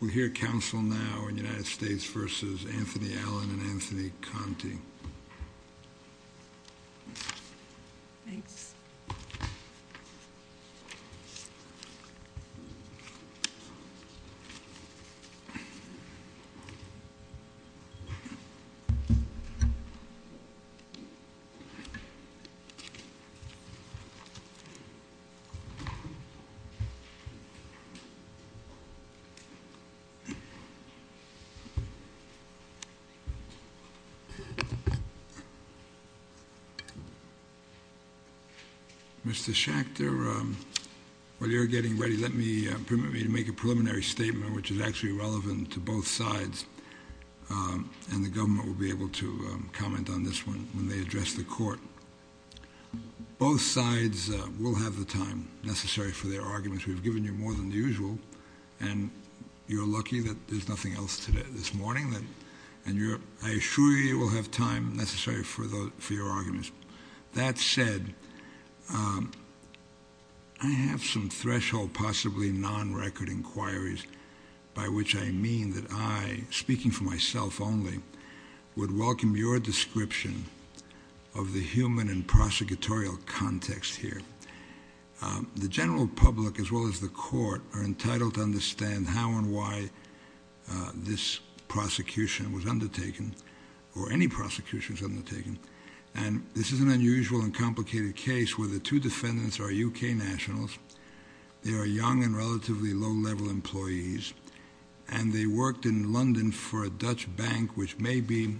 We hear counsel now in the United States v. Anthony Allen and Anthony Conte. Mr. Schachter, while you're getting ready, let me make a preliminary statement, which is actually relevant to both sides, and the government will be able to comment on this one when they address the court. Both sides will have the time necessary for their arguments. We've given you more than usual, and you're lucky that there's nothing else this morning. I assure you, you will have time necessary for your arguments. That said, I have some threshold, possibly non-record inquiries, by which I mean that I, speaking for myself only, would welcome your description of the human and prosecutorial context here. The general public, as well as the court, are entitled to understand how and why this prosecution was undertaken, or any prosecution was undertaken. And this is an unusual and complicated case where the two defendants are U.K. nationals, they are young and relatively low-level employees, and they worked in London for a Dutch bank, which may be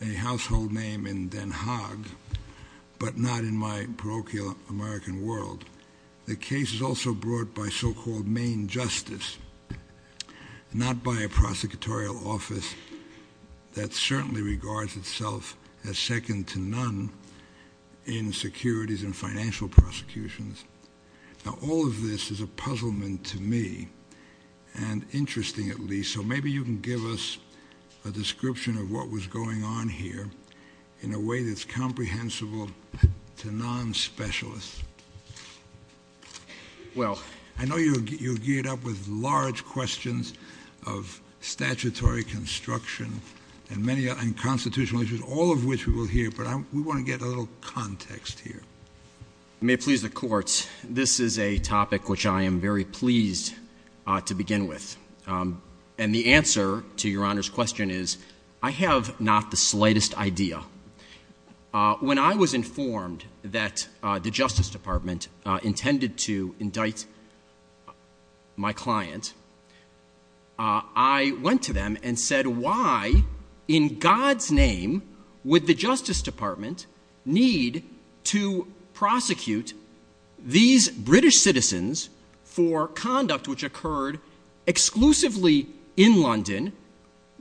a household name in Den Haag, but not in my parochial American world. The case is also brought by so-called main justice, not by a prosecutorial office that certainly regards itself as second to none in securities and financial prosecutions. Now all of this is a puzzlement to me, and interesting at least, so maybe you can give us a description of what was going on here in a way that's comprehensible to non-specialists. Well, I know you're geared up with large questions of statutory construction and constitutional issues, all of which we will hear, but we want to get a little context here. May it please the courts, this is a topic which I am very pleased to begin with. And the answer to Your Honor's question is, I have not the slightest idea. When I was informed that the Justice Department intended to indict my client, I went to them and said, in God's name, would the Justice Department need to prosecute these British citizens for conduct which occurred exclusively in London,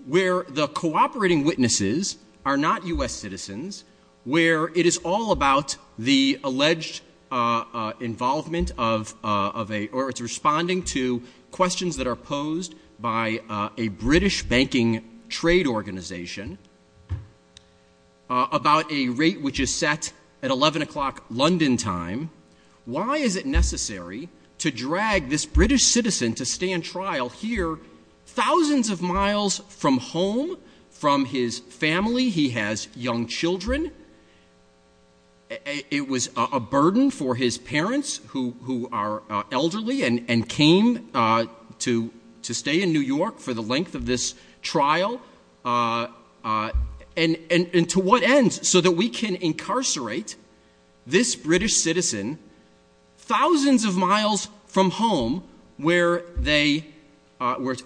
where the cooperating witnesses are not US citizens, where it is all about the alleged involvement of, or it's responding to questions that are posed by a British banking trade organization about a rate which is set at 11 o'clock London time. Why is it necessary to drag this British citizen to stand trial here, thousands of miles from home, from his family, he has young children, it was a burden for his parents who are elderly and came to stay in New York for the length of this trial, and to what end, so that we can incarcerate this British citizen, thousands of miles from home, where it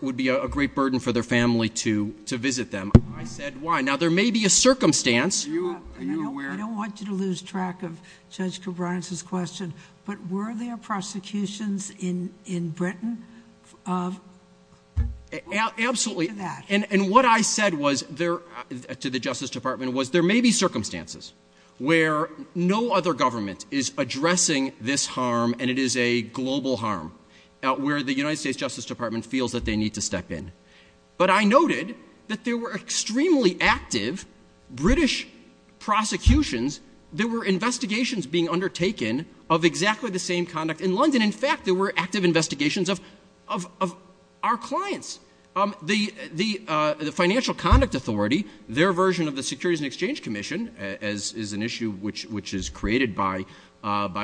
would be a great burden for their family to visit them. I said, why? Now there may be a circumstance. I don't want you to lose track of Judge Cabrera's question, but were there prosecutions in Britain? Absolutely, and what I said to the Justice Department was, there may be circumstances where no other government is addressing this harm, and it is a global harm, where the United States Justice Department feels that they need to step in. But I noted that there were extremely active British prosecutions, there were investigations being undertaken of exactly the same conduct in London, in fact there were active investigations of our clients. The Financial Conduct Authority, their version of the Securities and Exchange Commission, as is an issue which is created by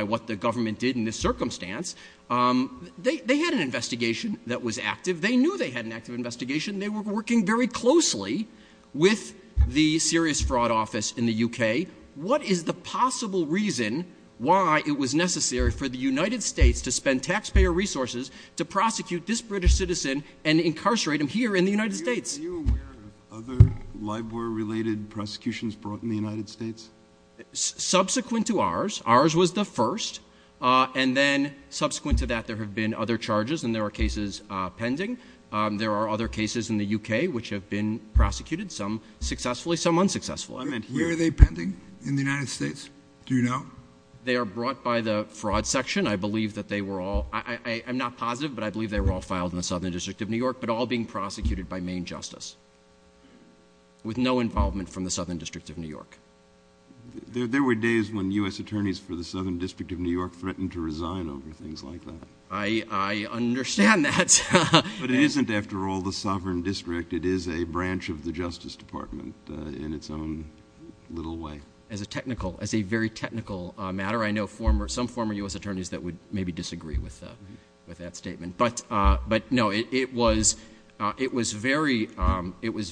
what the government did in this circumstance, they had an investigation that was active, they knew they had an active investigation, they were working very closely with the serious fraud office in the UK. What is the possible reason why it was necessary for the United States to spend taxpayer resources to prosecute this British citizen and incarcerate him here in the United States? Are you aware of other LIBOR-related prosecutions brought in the United States? Subsequent to ours, ours was the first, and then subsequent to that there have been other charges and there are cases pending. There are other cases in the UK which have been prosecuted, some successfully, some unsuccessfully. Where are they pending in the United States? Do you know? They are brought by the fraud section, I believe that they were all, I'm not positive, but I believe they were all filed in the Southern District of New York, but all being prosecuted by Maine Justice. With no involvement from the Southern District of New York. There were days when U.S. attorneys for the Southern District of New York threatened to resign over things like that. I understand that. But it isn't, after all, the Southern District, it is a branch of the Justice Department in its own little way. As a technical, as a very technical matter, I know some former U.S. attorneys that would maybe disagree with that statement. But no, it was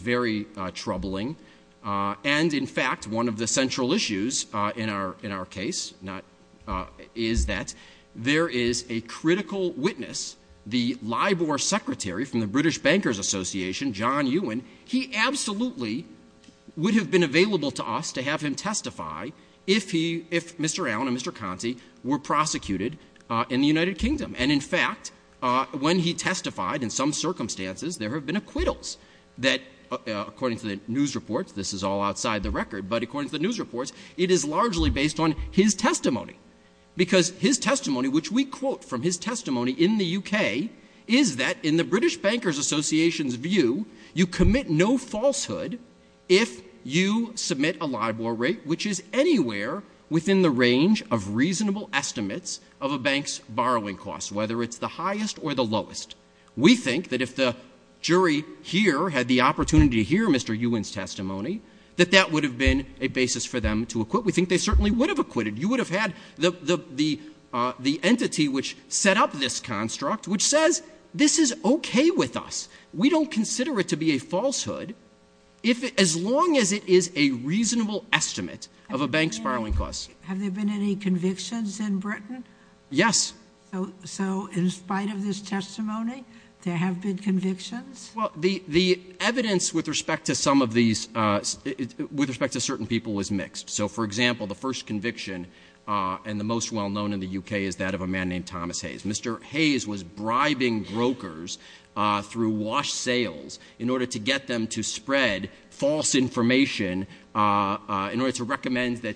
very troubling. And in fact, one of the central issues in our case is that there is a critical witness, the LIBOR secretary from the British Bankers Association, John Ewan. He absolutely would have been available to us to have him testify if Mr. Allen and Mr. Conte were prosecuted in the United Kingdom. And in fact, when he testified, in some circumstances, there have been acquittals that, according to the news reports, this is all outside the record, but according to the news reports, it is largely based on his testimony. Because his testimony, which we quote from his testimony in the UK, is that in the British Bankers Association's view, you commit no falsehood if you submit a LIBOR rate which is anywhere within the range of reasonable estimates of a bank's borrowing costs, whether it's the highest or the lowest. We think that if the jury here had the opportunity to hear Mr. Ewan's testimony, that that would have been a basis for them to acquit. We think they certainly would have acquitted. You would have had the entity which set up this construct, which says, this is okay with us. We don't consider it to be a falsehood as long as it is a reasonable estimate of a bank's borrowing costs. Have there been any convictions in Britain? Yes. So in spite of his testimony, there have been convictions? Well, the evidence with respect to some of these, with respect to certain people, is mixed. So, for example, the first conviction and the most well-known in the UK is that of a man named Thomas Hayes. Mr. Hayes was bribing brokers through wash sales in order to get them to spread false information, in order to recommend that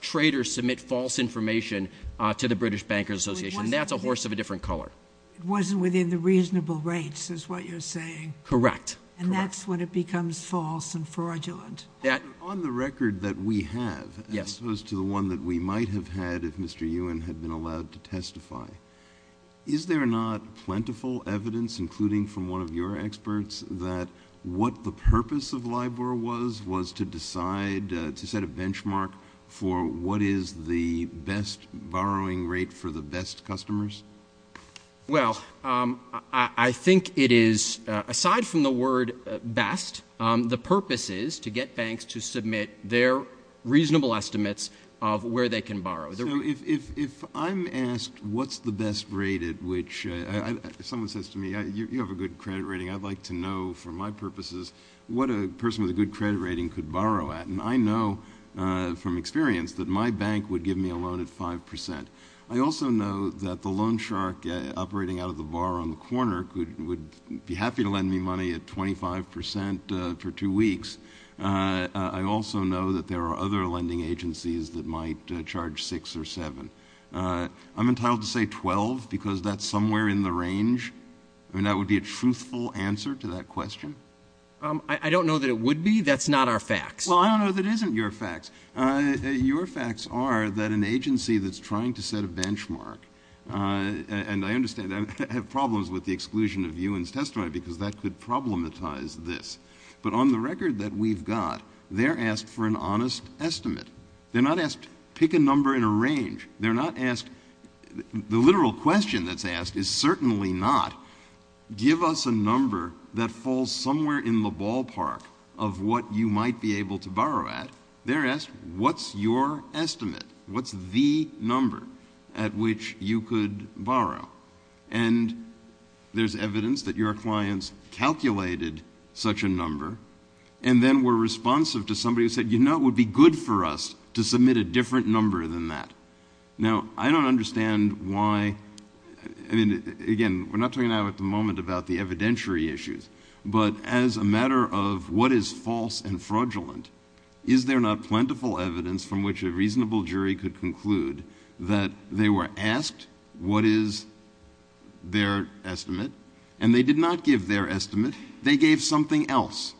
traders submit false information to the British Bankers Association. And that's a horse of a different color. It wasn't within the reasonable rates, is what you're saying. Correct. And that's when it becomes false and fraudulent. On the record that we have, as opposed to the one that we might have had if Mr. Ewan had been allowed to testify, is there not plentiful evidence, including from one of your experts, that what the purpose of LIBOR was was to decide, to set a benchmark for what is the best borrowing rate for the best customers? Well, I think it is, aside from the word best, the purpose is to get banks to submit their reasonable estimates of where they can borrow. If I'm asked what's the best rate at which, someone says to me, you have a good credit rating, I'd like to know, for my purposes, what a person with a good credit rating could borrow at. And I know from experience that my bank would give me a loan at 5%. I also know that the loan shark operating out of the bar on the corner would be happy to lend me money at 25% for two weeks. I also know that there are other lending agencies that might charge 6 or 7. I'm entitled to say 12 because that's somewhere in the range. I mean, that would be a truthful answer to that question. I don't know that it would be. That's not our facts. Well, I don't know that isn't your facts. Your facts are that an agency that's trying to set a benchmark, and I understand that I have problems with the exclusion of you and Test Drive because that could problematize this, but on the record that we've got, they're asked for an honest estimate. They're not asked, pick a number in a range. They're not asked, the literal question that's asked is certainly not, give us a number that falls somewhere in the ballpark of what you might be able to borrow at. They're asked, what's your estimate? What's the number at which you could borrow? And there's evidence that your clients calculated such a number and then were responsive to somebody who said, you know, it would be good for us to submit a different number than that. Now, I don't understand why, I mean, again, we're not talking now at the moment about the evidentiary issues, but as a matter of what is false and fraudulent, is there not plentiful evidence from which a reasonable jury could conclude that they were asked, what is their estimate, and they did not give their estimate, they gave something else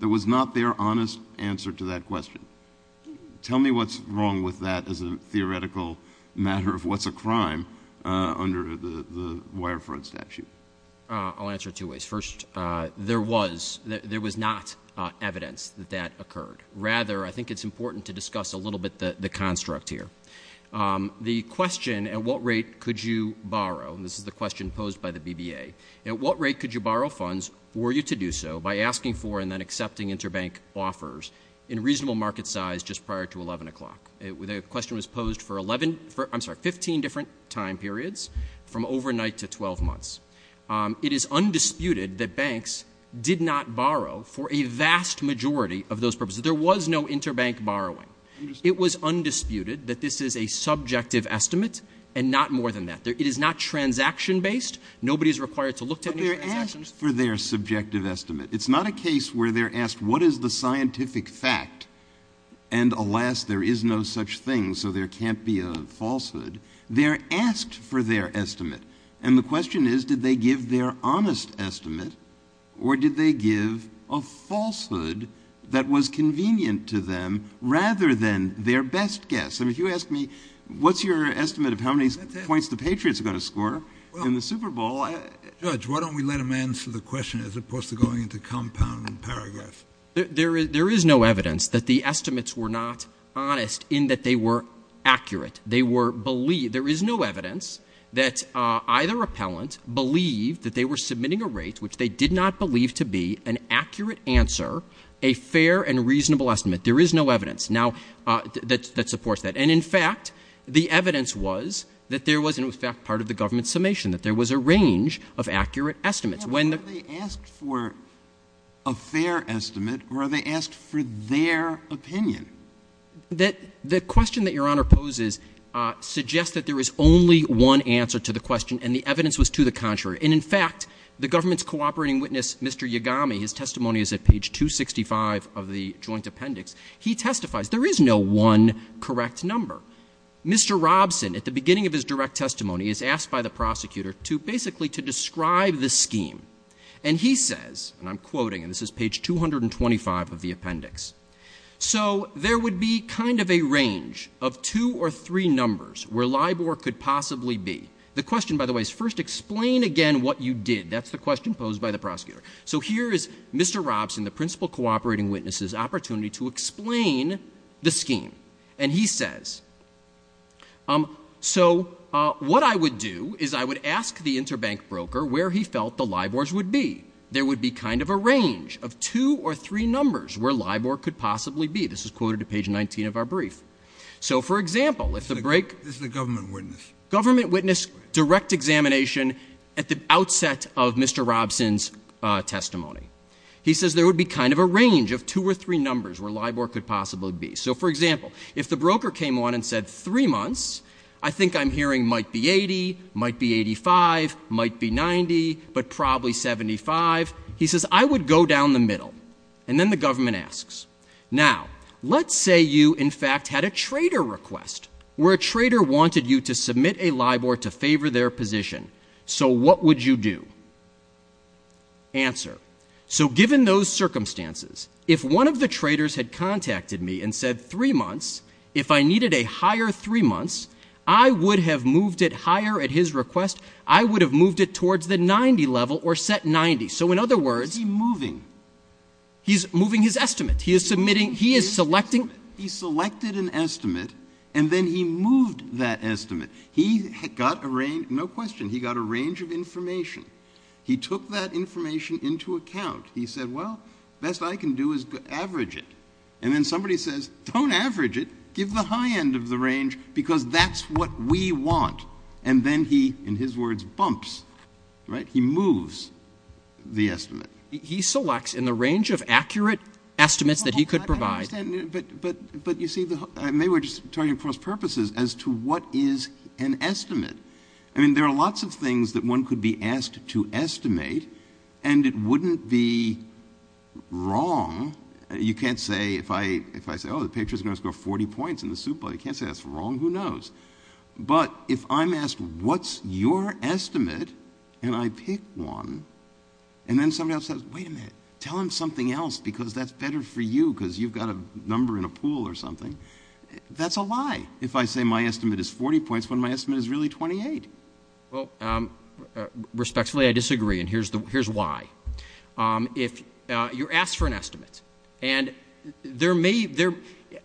that was not their honest answer to that question. Tell me what's wrong with that as a theoretical matter of what's a crime under the Wireford statute. I'll answer it two ways. First, there was not evidence that that occurred. Rather, I think it's important to discuss a little bit the construct here. The question, at what rate could you borrow, this is the question posed by the BBA, at what rate could you borrow funds for you to do so by asking for and then accepting interbank offers in reasonable market size just prior to 11 o'clock? The question was posed for 11, I'm sorry, 15 different time periods from overnight to 12 months. It is undisputed that banks did not borrow for a vast majority of those purposes. There was no interbank borrowing. It was undisputed that this is a subjective estimate and not more than that. It is not transaction-based. Nobody is required to look at the transactions. But they're asked for their subjective estimate. It's not a case where they're asked, what is the scientific fact, and alas, there is no such thing, so there can't be a falsehood. They're asked for their estimate. And the question is, did they give their honest estimate or did they give a falsehood that was convenient to them rather than their best guess? And if you ask me, what's your estimate of how many points the Patriots are going to score in the Super Bowl? Judge, why don't we let him answer the question as opposed to going into compound paragraphs? There is no evidence that the estimates were not honest in that they were accurate. There is no evidence that either appellant believed that they were submitting a rate which they did not believe to be an accurate answer, a fair and reasonable estimate. There is no evidence that supports that. And, in fact, the evidence was that there was, in effect, part of the government's summation, that there was a range of accurate estimates. Are they asked for a fair estimate or are they asked for their opinion? The question that Your Honor poses suggests that there is only one answer to the question and the evidence was to the contrary. And, in fact, the government's cooperating witness, Mr. Yagami, his testimony is at page 265 of the joint appendix, he testifies. There is no one correct number. Mr. Robson, at the beginning of his direct testimony, is asked by the prosecutor to basically to describe the scheme. And he says, and I'm quoting, and this is page 225 of the appendix, so there would be kind of a range of two or three numbers where LIBOR could possibly be. The question, by the way, is first explain again what you did. That's the question posed by the prosecutor. So here is Mr. Robson, the principal cooperating witness's opportunity to explain the scheme. And he says, so what I would do is I would ask the interbank broker where he felt the LIBORs would be. There would be kind of a range of two or three numbers where LIBOR could possibly be. This is quoted at page 19 of our brief. So, for example, if the break. This is the government witness. Government witness direct examination at the outset of Mr. Robson's testimony. He says there would be kind of a range of two or three numbers where LIBOR could possibly be. So, for example, if the broker came on and said three months, I think I'm hearing might be 80, might be 85, might be 90, but probably 75. He says I would go down the middle. And then the government asks. Now, let's say you, in fact, had a trader request where a trader wanted you to submit a LIBOR to favor their position. So what would you do? Answer. So, given those circumstances, if one of the traders had contacted me and said three months, if I needed a higher three months, I would have moved it higher at his request. I would have moved it towards the 90 level or set 90. So, in other words. He's moving. He's moving his estimate. He is submitting. He is selecting. He selected an estimate, and then he moved that estimate. He got a range. No question. He got a range of information. He took that information into account. He said, well, best I can do is to average it. And then somebody says, don't average it. Give the high end of the range because that's what we want. And then he, in his words, bumps. Right. He moves the estimate. He selects in the range of accurate estimates that he could provide. I mean, there are lots of things that one could be asked to estimate, and it wouldn't be wrong. You can't say, if I, if I say, oh, the picture's going to score 40 points in the suit, but I can't say that's wrong. Who knows? But if I'm asked, what's your estimate? And I pick one. And then somebody else says, wait a minute. Tell him something else because that's better for you because you've got a number in a pool or something. That's a lie. If I say my estimate is 40 points, when my estimate is really 28. Well, respectfully, I disagree. And here's the, here's why. If you're asked for an estimate, and there may, there,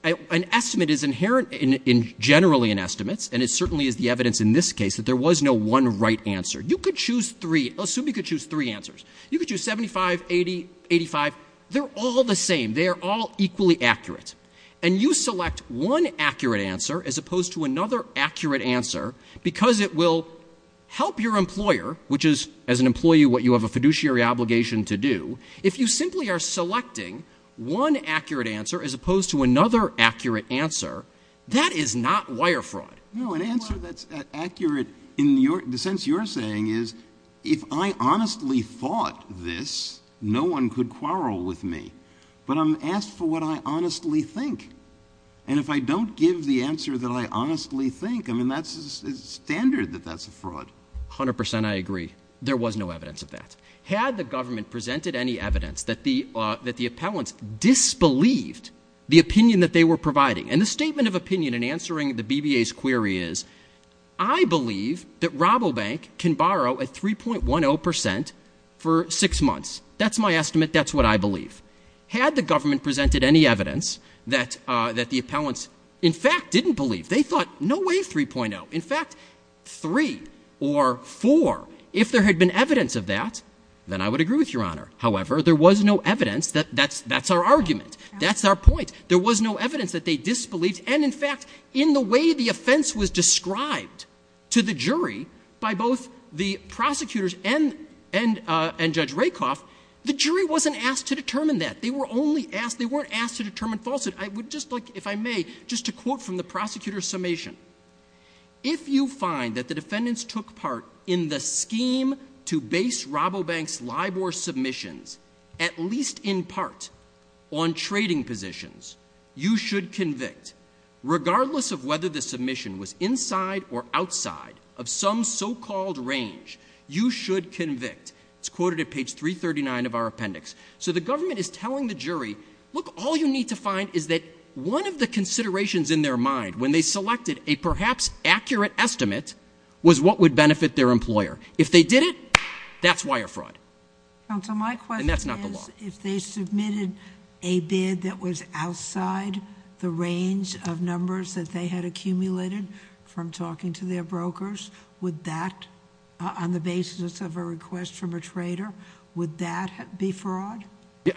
an estimate is inherent in generally in estimates. And it certainly is the evidence in this case that there was no one right answer. You could choose three. Assume you could choose three answers. You could choose 75, 80, 85. They're all the same. They are all equally accurate. And you select one accurate answer as opposed to another accurate answer because it will help your employer, which is, as an employee, what you have a fiduciary obligation to do. If you simply are selecting one accurate answer as opposed to another accurate answer, that is not wire fraud. No, an answer that's accurate in the sense you're saying is, if I honestly thought this, no one could quarrel with me. But I'm asked for what I honestly think. And if I don't give the answer that I honestly think, I mean, that's standard that that's a fraud. 100%, I agree. There was no evidence of that. Had the government presented any evidence that the, that the appellants disbelieved the opinion that they were providing. And the statement of opinion in answering the BBA's query is, I believe that Robobank can borrow at 3.10% for six months. That's my estimate. That's what I believe. Had the government presented any evidence that, that the appellants, in fact, didn't believe. They thought, no way 3.0. In fact, three or four. If there had been evidence of that, then I would agree with Your Honor. However, there was no evidence that that's, that's our argument. That's our point. There was no evidence that they disbelieved. And in fact, in the way the offense was described to the jury by both the prosecutors and, and, and Judge Rakoff, the jury wasn't asked to determine that. They were only asked, they weren't asked to determine falsehood. I would just like, if I may, just a quote from the prosecutor's summation. If you find that the defendants took part in the scheme to base Robobank's LIBOR submissions, at least in part, on trading positions, you should convict. Regardless of whether the submission was inside or outside of some so-called range, you should convict. It's quoted at page 339 of our appendix. So the government is telling the jury, look, all you need to find is that one of the considerations in their mind when they selected a perhaps accurate estimate was what would benefit their employer. If they did it, that's wire fraud. And that's not the law. If they submitted a bid that was outside the range of numbers that they had accumulated from talking to their brokers, would that, on the basis of a request from a trader, would that be fraud?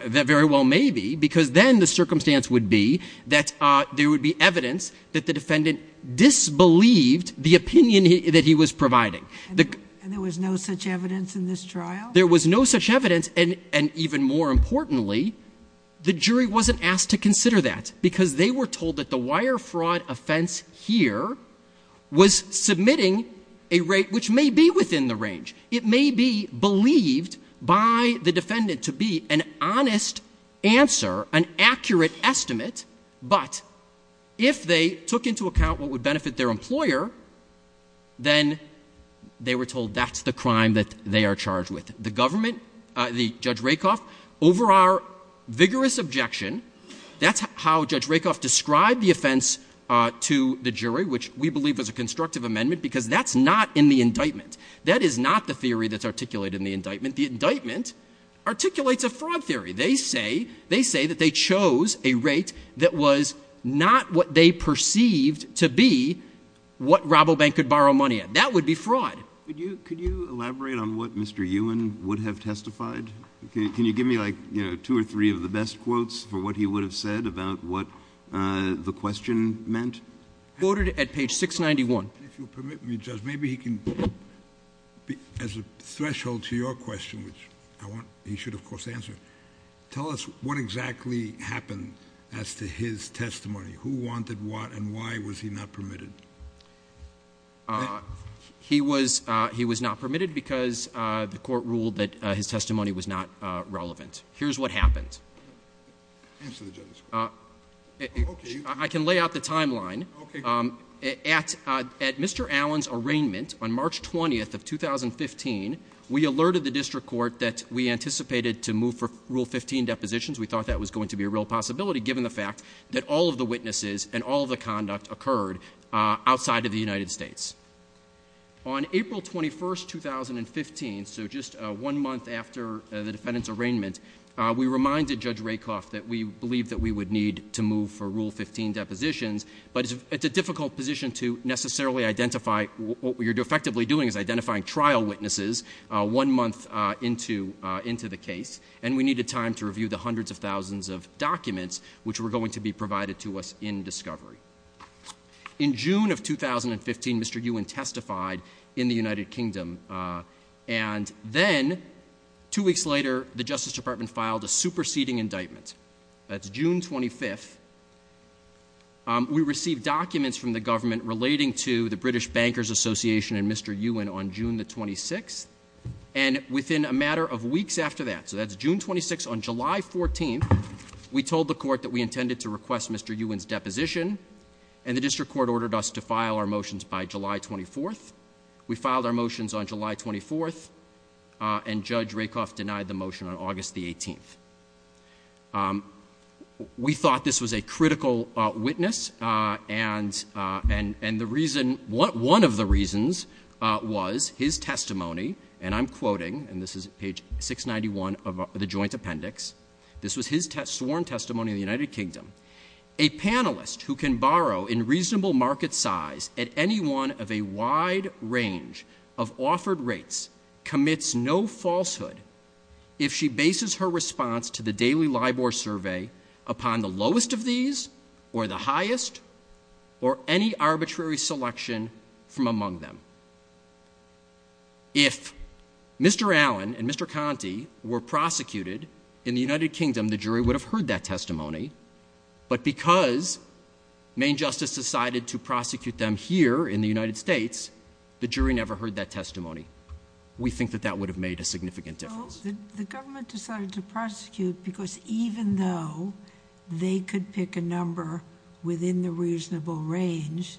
That very well may be, because then the circumstance would be that there would be evidence that the defendant disbelieved the opinion that he was providing. And there was no such evidence in this trial? There was no such evidence. And even more importantly, the jury wasn't asked to consider that, because they were told that the wire fraud offense here was submitting a rate which may be within the range. It may be believed by the defendant to be an honest answer, an accurate estimate. But if they took into account what would benefit their employer, then they were told that's the crime that they are charged with. The government, Judge Rakoff, over our vigorous objection, that's how Judge Rakoff described the offense to the jury, which we believe is a constructive amendment, because that's not in the indictment. That is not the theory that's articulated in the indictment. The indictment articulates a fraud theory. They say that they chose a rate that was not what they perceived to be what Robobank could borrow money at. That would be fraud. Could you elaborate on what Mr. Ewan would have testified? Can you give me, like, two or three of the best quotes for what he would have said about what the question meant? Quoted at page 691. If you'll permit me, Judge, maybe he can, as a threshold to your question, which he should, of course, answer. Tell us what exactly happened as to his testimony. Who wanted what and why was he not permitted? He was not permitted because the court ruled that his testimony was not relevant. Here's what happened. Answer the judge. I can lay out the timeline. Okay. At Mr. Allen's arraignment on March 20th of 2015, we alerted the district court that we anticipated to move for Rule 15 depositions. We thought that was going to be a real possibility, given the fact that all of the witnesses and all of the conduct occurred outside of the United States. On April 21st, 2015, so just one month after the defendant's arraignment, we reminded Judge Rakoff that we believed that we would need to move for Rule 15 depositions, but it's a difficult position to necessarily identify what you're effectively doing is identifying trial witnesses one month into the case, and we needed time to review the hundreds of thousands of documents which were going to be provided to us in discovery. In June of 2015, Mr. Ewan testified in the United Kingdom, and then two weeks later, the Justice Department filed a superseding indictment. That's June 25th. We received documents from the government relating to the British Bankers Association and Mr. Ewan on June the 26th, and within a matter of weeks after that, so that's June 26th, on July 14th, we told the court that we intended to request Mr. Ewan's deposition, and the district court ordered us to file our motions by July 24th. We filed our motions on July 24th, and Judge Rakoff denied the motion on August the 18th. We thought this was a critical witness, and one of the reasons was his testimony, and I'm quoting, and this is page 691 of the joint appendix. This was his sworn testimony in the United Kingdom. A panelist who can borrow in reasonable market size at any one of a wide range of offered rates commits no falsehood if she bases her response to the daily LIBOR survey upon the lowest of these, or the highest, or any arbitrary selection from among them. If Mr. Ewan and Mr. Conte were prosecuted in the United Kingdom, the jury would have heard that testimony, but because Main Justice decided to prosecute them here in the United States, the jury never heard that testimony. We think that that would have made a significant difference. The government decided to prosecute because even though they could pick a number within the reasonable range,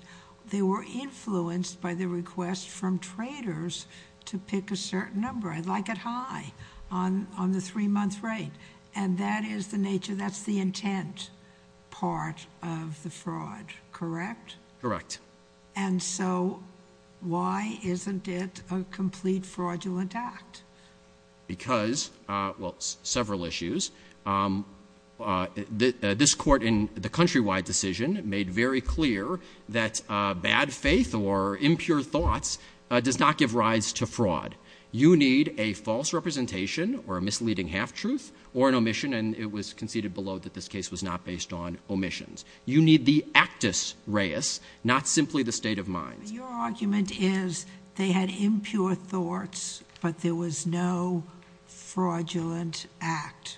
they were influenced by the request from traders to pick a certain number. I'd like it high on the three-month rate, and that is the nature. That's the intent part of the fraud, correct? Correct. And so why isn't it a complete fraudulent act? Because, well, several issues. This court in the countrywide decision made very clear that bad faith or impure thoughts does not give rise to fraud. You need a false representation or a misleading half-truth or an omission, and it was conceded below that this case was not based on omissions. You need the actus reus, not simply the state of mind. Your argument is they had impure thoughts, but there was no fraudulent act.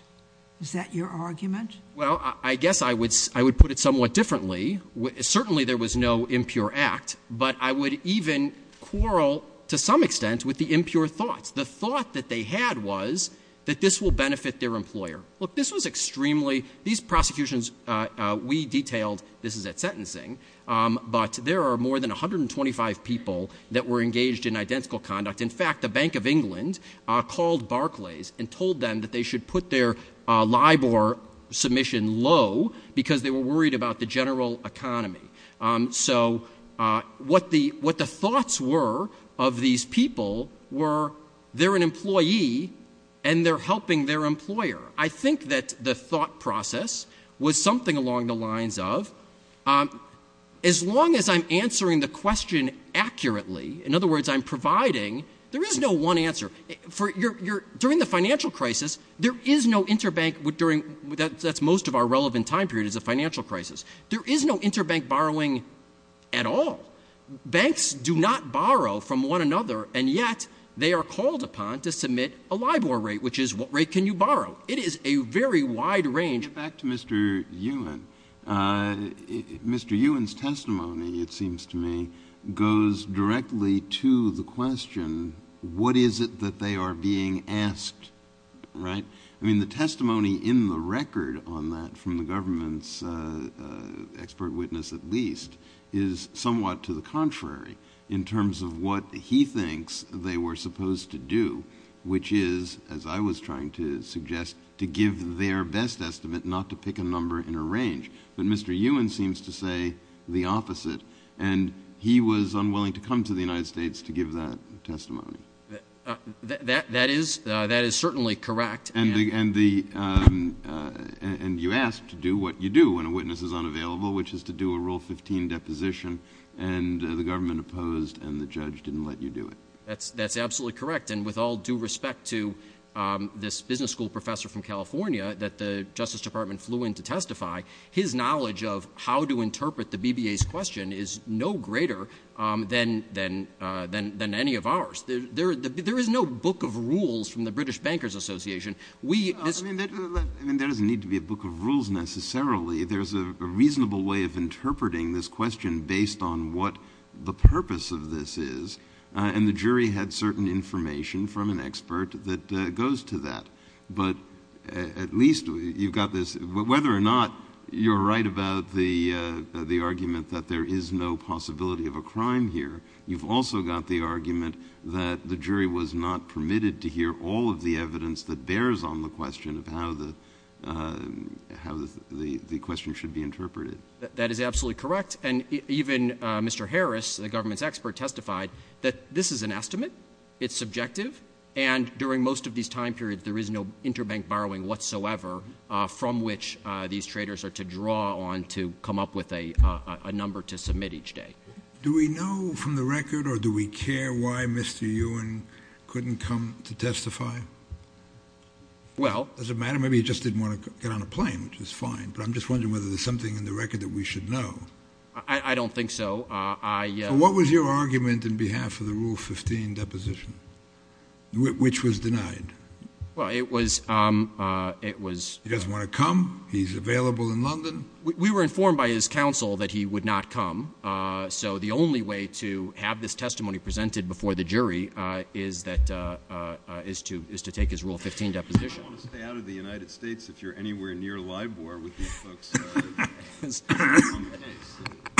Is that your argument? Well, I guess I would put it somewhat differently. Certainly there was no impure act, but I would even quarrel to some extent with the impure thoughts. The thought that they had was that this will benefit their employer. Look, this was extremely – these prosecutions we detailed, this is at sentencing, but there are more than 125 people that were engaged in identical conduct. In fact, the Bank of England called Barclays and told them that they should put their LIBOR submission low because they were worried about the general economy. So what the thoughts were of these people were they're an employee and they're helping their employer. I think that the thought process was something along the lines of as long as I'm answering the question accurately, in other words, I'm providing, there is no one answer. During the financial crisis, there is no interbank – that's most of our relevant time period is the financial crisis. There is no interbank borrowing at all. Banks do not borrow from one another, and yet they are called upon to submit a LIBOR rate, which is what rate can you borrow? It is a very wide range. Back to Mr. Ewan. Mr. Ewan's testimony, it seems to me, goes directly to the question, what is it that they are being asked, right? I mean, the testimony in the record on that from the government's expert witness at least is somewhat to the contrary in terms of what he thinks they were supposed to do, which is, as I was trying to suggest, to give their best estimate, not to pick a number in a range. But Mr. Ewan seems to say the opposite, and he was unwilling to come to the United States to give that testimony. That is certainly correct. And you ask to do what you do when a witness is unavailable, which is to do a Rule 15 deposition, and the government opposed and the judge didn't let you do it. That's absolutely correct. And with all due respect to this business school professor from California that the Justice Department flew in to testify, his knowledge of how to interpret the BBA's question is no greater than any of ours. There is no book of rules from the British Bankers Association. There doesn't need to be a book of rules necessarily. There's a reasonable way of interpreting this question based on what the purpose of this is, and the jury had certain information from an expert that goes to that. But at least you've got this. Whether or not you're right about the argument that there is no possibility of a crime here, you've also got the argument that the jury was not permitted to hear all of the evidence that bears on the question of how the question should be interpreted. That is absolutely correct. And even Mr. Harris, the government's expert, testified that this is an estimate, it's subjective, and during most of these time periods there is no interbank borrowing whatsoever from which these traders are to draw on to come up with a number to submit each day. Do we know from the record or do we care why Mr. Ewan couldn't come to testify? Does it matter? Maybe he just didn't want to get on a plane, which is fine, but I'm just wondering whether there's something in the record that we should know. I don't think so. What was your argument in behalf of the Rule 15 deposition? Which was denied? Well, it was... He doesn't want to come? He's available in London? We were informed by his counsel that he would not come, so the only way to have this testimony presented before the jury is to take his Rule 15 deposition. I don't want to stay out of the United States if you're anywhere near LIBOR with these folks.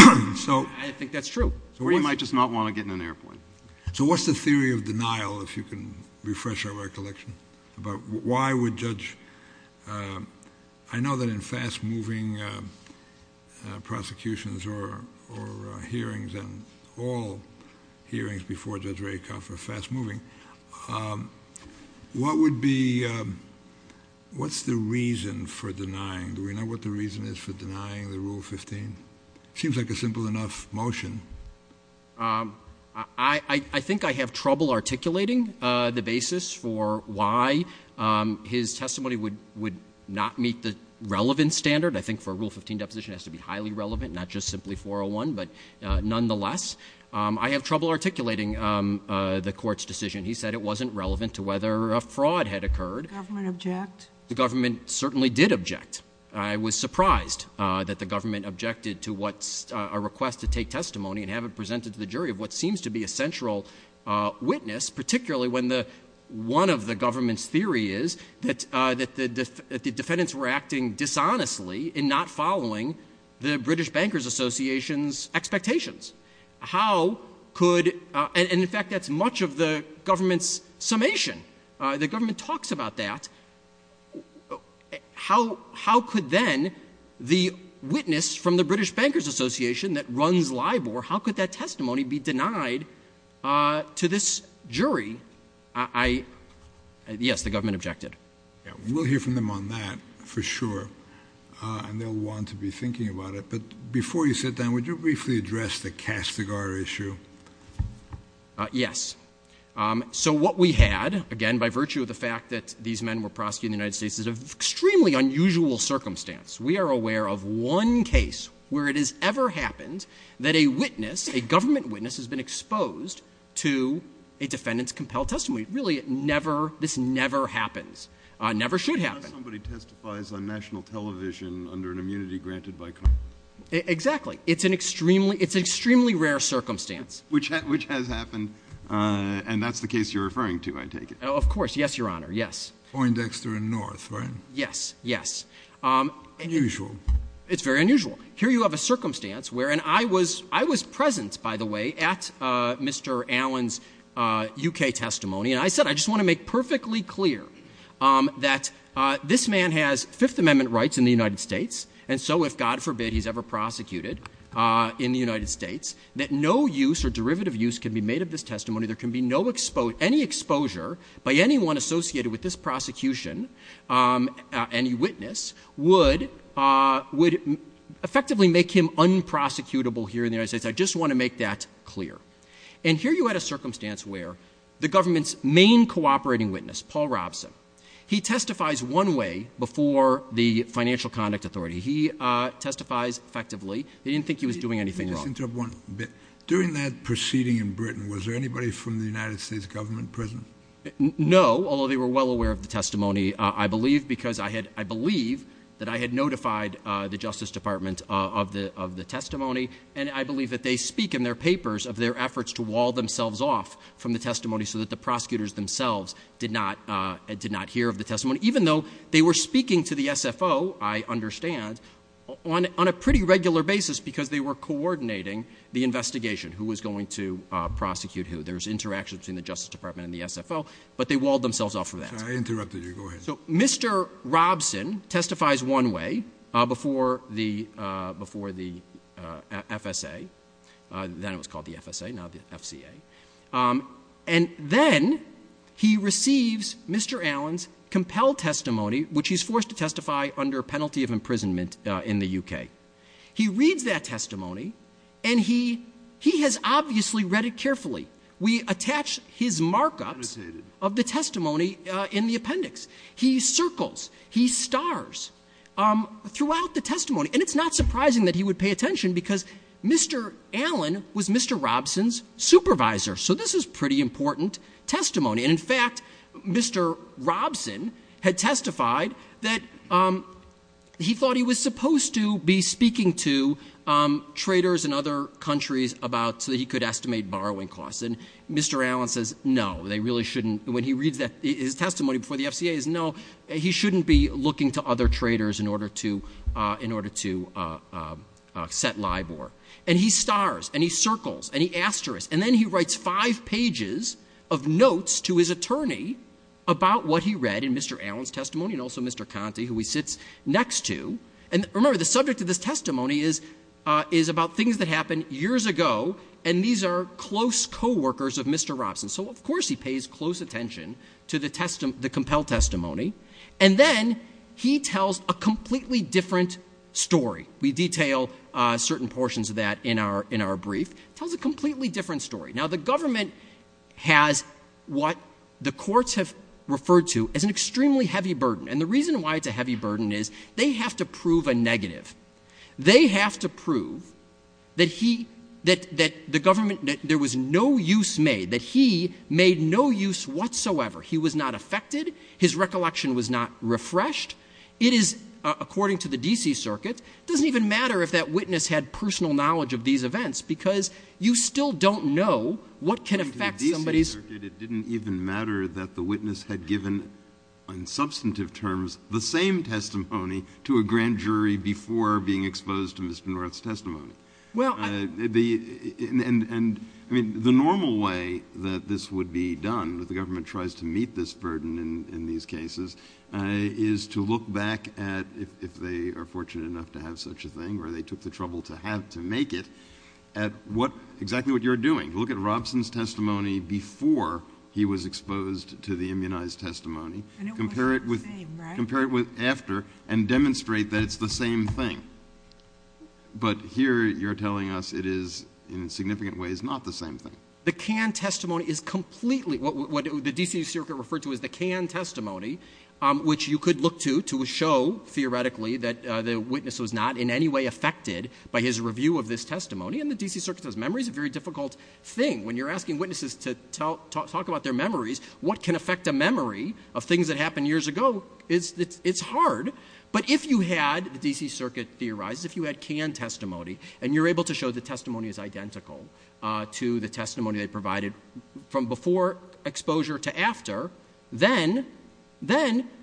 I think that's true. Or he might just not want to get on an airplane. So what's the theory of denial, if you can refresh our recollection, about why would Judge... I know that in fast-moving prosecutions or hearings, and all hearings before Judge Rakoff are fast-moving, what would be... What's the reason for denying? Do we know what the reason is for denying the Rule 15? Seems like a simple enough motion. I think I have trouble articulating the basis for why his testimony would not meet the relevant standard. I think for a Rule 15 deposition it has to be highly relevant, not just simply 401, but nonetheless. I have trouble articulating the Court's decision. He said it wasn't relevant to whether a fraud had occurred. Did the government object? The government certainly did object. I was surprised that the government objected to a request to take testimony and have it presented to the jury of what seems to be a central witness, particularly when one of the government's theory is that the defendants were acting dishonestly and not following the British Bankers Association's expectations. How could... And, in fact, that's much of the government's summation. The government talks about that. How could then the witness from the British Bankers Association that runs LIBOR, how could that testimony be denied to this jury? I... Yes, the government objected. We'll hear from them on that, for sure. And they'll want to be thinking about it. But before you sit down, would you briefly address the Castigar issue? Yes. So what we had, again, by virtue of the fact that these men were prosecuting the United States, is an extremely unusual circumstance. We are aware of one case where it has ever happened that a witness, a government witness has been exposed to a defendant's compelled testimony. Really, it never, this never happens, never should happen. Somebody testifies on national television under an immunity granted by Congress. Exactly. It's an extremely, it's an extremely rare circumstance. Which has happened, and that's the case you're referring to, I take it. Of course, yes, Your Honor, yes. Poindexter and North, right? Yes, yes. Unusual. It's very unusual. Here you have a circumstance where, and I was present, by the way, at Mr. Allen's U.K. testimony, and I said, I just want to make perfectly clear that this man has Fifth Amendment rights in the United States, and so if, God forbid, he's ever prosecuted in the United States, that no use or derivative use can be made of this testimony. There can be no, any exposure by anyone associated with this prosecution, any witness, would effectively make him unprosecutable here in the United States. I just want to make that clear. And here you had a circumstance where the government's main cooperating witness, Paul Robson, he testifies one way before the Financial Conduct Authority. He testifies effectively. They didn't think he was doing anything wrong. During that proceeding in Britain, was there anybody from the United States government present? No, although they were well aware of the testimony, I believe, because I believe that I had notified the Justice Department of the testimony, and I believe that they speak in their papers of their efforts to wall themselves off from the testimony so that the prosecutors themselves did not hear of the testimony, even though they were speaking to the SFO, I understand, on a pretty regular basis because they were coordinating the investigation, who was going to prosecute who. There's interaction between the Justice Department and the SFO, but they walled themselves off from that. I interrupted you. Go ahead. So Mr. Robson testifies one way before the FSA. Then it was called the FSA, now the FCA. And then he receives Mr. Allen's compelled testimony, which he's forced to testify under a penalty of imprisonment in the U.K. He reads that testimony, and he has obviously read it carefully. We attach his markup of the testimony in the appendix. He circles, he stars throughout the testimony, and it's not surprising that he would pay attention because Mr. Allen was Mr. Robson's supervisor. So this is pretty important testimony. And, in fact, Mr. Robson had testified that he thought he was supposed to be speaking to traders in other countries so that he could estimate borrowing costs. And Mr. Allen says no, they really shouldn't. When he reads that testimony before the FCA, he says no, he shouldn't be looking to other traders in order to set LIBOR. And he stars, and he circles, and he asterisks. And then he writes five pages of notes to his attorney about what he read in Mr. Allen's testimony and also Mr. Conte, who he sits next to. And, remember, the subject of this testimony is about things that happened years ago, and these are close co-workers of Mr. Robson. So, of course, he pays close attention to the compelled testimony. And then he tells a completely different story. We detail certain portions of that in our brief. He tells a completely different story. Now, the government has what the courts have referred to as an extremely heavy burden. And the reason why it's a heavy burden is they have to prove a negative. They have to prove that he, that the government, that there was no use made, that he made no use whatsoever. He was not affected. His recollection was not refreshed. It is, according to the D.C. Circuit, it doesn't even matter if that witness had personal knowledge of these events because you still don't know what can affect somebody's. The D.C. Circuit, it didn't even matter that the witness had given, in substantive terms, the same testimony to a grand jury before being exposed to Mr. Norreth's testimony. And the normal way that this would be done, that the government tries to meet this burden in these cases, is to look back at, if they are fortunate enough to have such a thing or they took the trouble to have to make it, at exactly what you're doing. Look at Robson's testimony before he was exposed to the immunized testimony. Compare it with after and demonstrate that it's the same thing. But here you're telling us it is, in significant ways, not the same thing. The canned testimony is completely, what the D.C. Circuit referred to as the canned testimony, which you could look to to show, theoretically, that the witness was not in any way affected by his review of this testimony. And the D.C. Circuit says memory is a very difficult thing. When you're asking witnesses to talk about their memories, what can affect the memory of things that happened years ago? It's hard. But if you had, the D.C. Circuit theorized, if you had canned testimony and you're able to show the testimony is identical to the testimony they provided from before exposure to after, then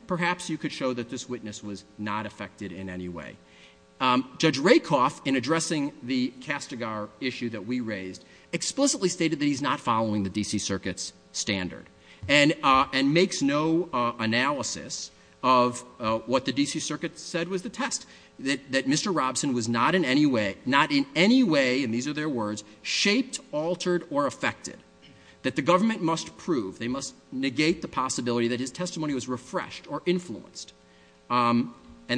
perhaps you could show that this witness was not affected in any way. Judge Rakoff, in addressing the Castigar issue that we raised, explicitly stated that he's not following the D.C. Circuit's standard and makes no analysis of what the D.C. Circuit said was the test, that Mr. Robson was not in any way, not in any way, and these are their words, shaped, altered, or affected, that the government must prove, they must negate the possibility that his testimony was refreshed or influenced. And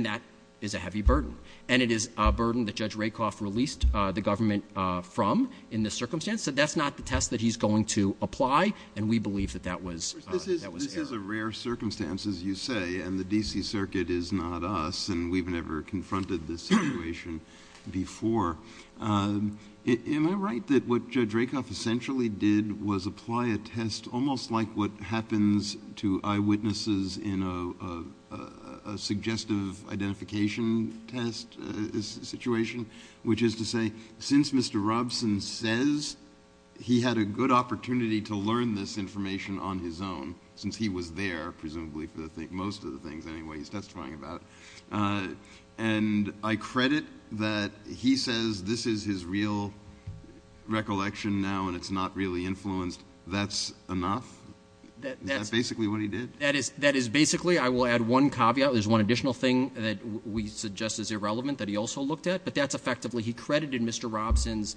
that is a heavy burden. And it is a burden that Judge Rakoff released the government from, in this circumstance, that that's not the test that he's going to apply, and we believe that that was, that was his. This is a rare circumstance, as you say, and the D.C. Circuit is not us, and we've never confronted this situation before. Am I right that what Judge Rakoff essentially did was apply a test that's almost like what happens to eyewitnesses in a suggestive identification test situation, which is to say, since Mr. Robson says he had a good opportunity to learn this information on his own, since he was there, presumably, for most of the things, anyway, he's testifying about, and I credit that he says this is his real recollection now, and it's not really influenced, that's enough? That's basically what he did? That is basically, I will add one caveat, there's one additional thing that we suggest is irrelevant that he also looked at, but that's effectively, he credited Mr. Robson's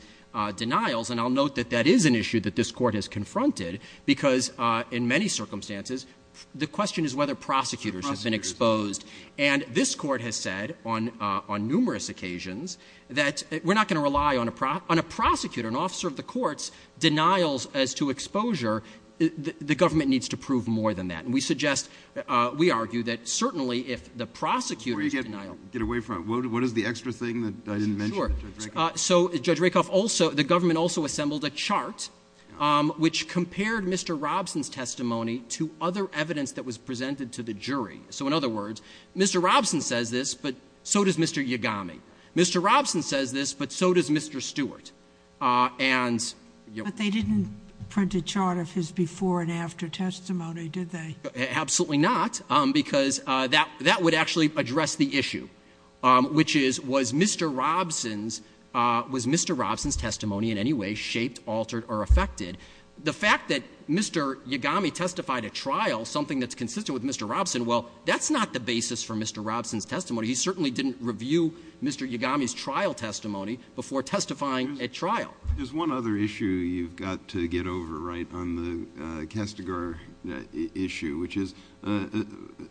denials, and I'll note that that is an issue that this Court has confronted, because in many circumstances, the question is whether prosecutors have been exposed. And this Court has said on numerous occasions that we're not going to rely on a prosecutor, but if an officer of the courts denials as to exposure, the government needs to prove more than that, and we suggest, we argue that certainly if the prosecutor denials. Get away from it. What is the extra thing that I didn't mention? Sure. So Judge Rakoff, the government also assembled a chart, which compared Mr. Robson's testimony to other evidence that was presented to the jury. So in other words, Mr. Robson says this, but so does Mr. Yagami. Mr. Robson says this, but so does Mr. Stewart. But they didn't print a chart of his before and after testimony, did they? Absolutely not, because that would actually address the issue, which is was Mr. Robson's testimony in any way shaped, altered, or affected? The fact that Mr. Yagami testified at trial, something that's consistent with Mr. Robson, well, that's not the basis for Mr. Robson's testimony. He certainly didn't review Mr. Yagami's trial testimony before testifying at trial. There's one other issue you've got to get over right on the Castigar issue, which is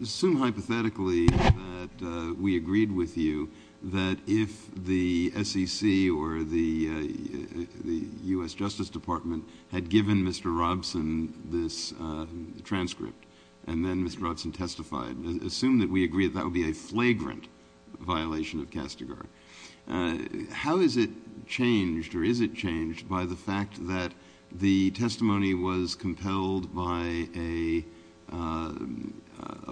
assume hypothetically that we agreed with you that if the SEC or the U.S. Justice Department had given Mr. Robson this transcript and then Mr. Robson testified, assume that we agree that that would be a flagrant violation of Castigar. How is it changed or is it changed by the fact that the testimony was compelled by a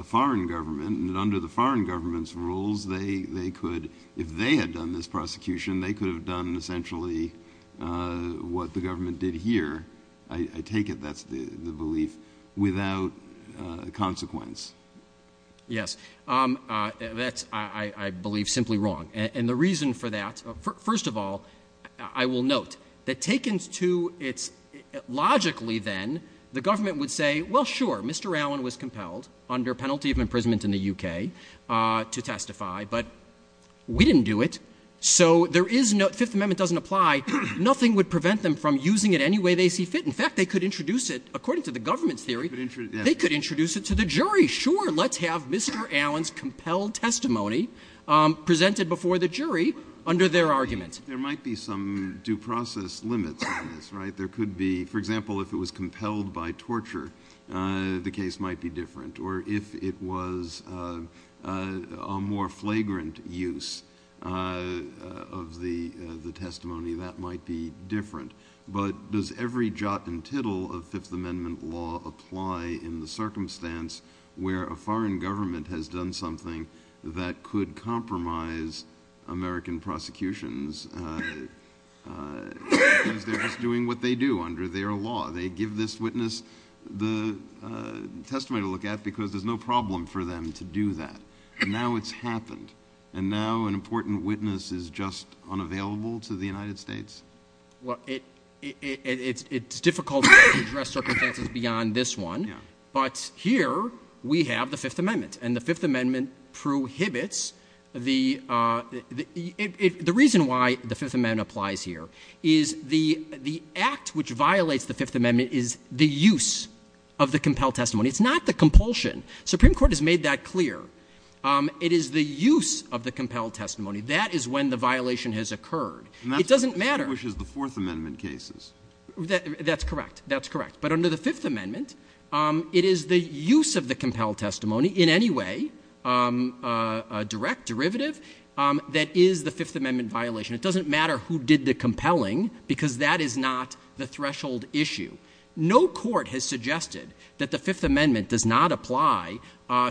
foreign government and under the foreign government's rules they could, if they had done this prosecution, they could have done essentially what the government did here. I take it that's the belief without consequence. Yes. That's, I believe, simply wrong. And the reason for that, first of all, I will note that taken to it logically then, the government would say, well, sure, Mr. Allen was compelled under penalty of imprisonment in the U.K. to testify, but we didn't do it. So there is no Fifth Amendment doesn't apply. Nothing would prevent them from using it any way they see fit. In fact, they could introduce it, according to the government's theory, they could introduce it to the jury. Sure, let's have Mr. Allen's compelled testimony presented before the jury under their arguments. There might be some due process limits on this, right? There could be, for example, if it was compelled by torture, the case might be different. Or if it was a more flagrant use of the testimony, that might be different. But does every jot and tittle of Fifth Amendment law apply in the circumstance where a foreign government has done something that could compromise American prosecutions if they're just doing what they do under their law? They give this witness the testimony to look at because there's no problem for them to do that. And now it's happened. And now an important witness is just unavailable to the United States? Well, it's difficult to address circumstances beyond this one. But here we have the Fifth Amendment. And the Fifth Amendment prohibits the – the reason why the Fifth Amendment applies here is the act which violates the Fifth Amendment is the use of the compelled testimony. It's not the compulsion. Supreme Court has made that clear. It is the use of the compelled testimony. That is when the violation has occurred. It doesn't matter. Which is the Fourth Amendment cases. That's correct. That's correct. But under the Fifth Amendment, it is the use of the compelled testimony in any way, direct, derivative, that is the Fifth Amendment violation. It doesn't matter who did the compelling because that is not the threshold issue. No court has suggested that the Fifth Amendment does not apply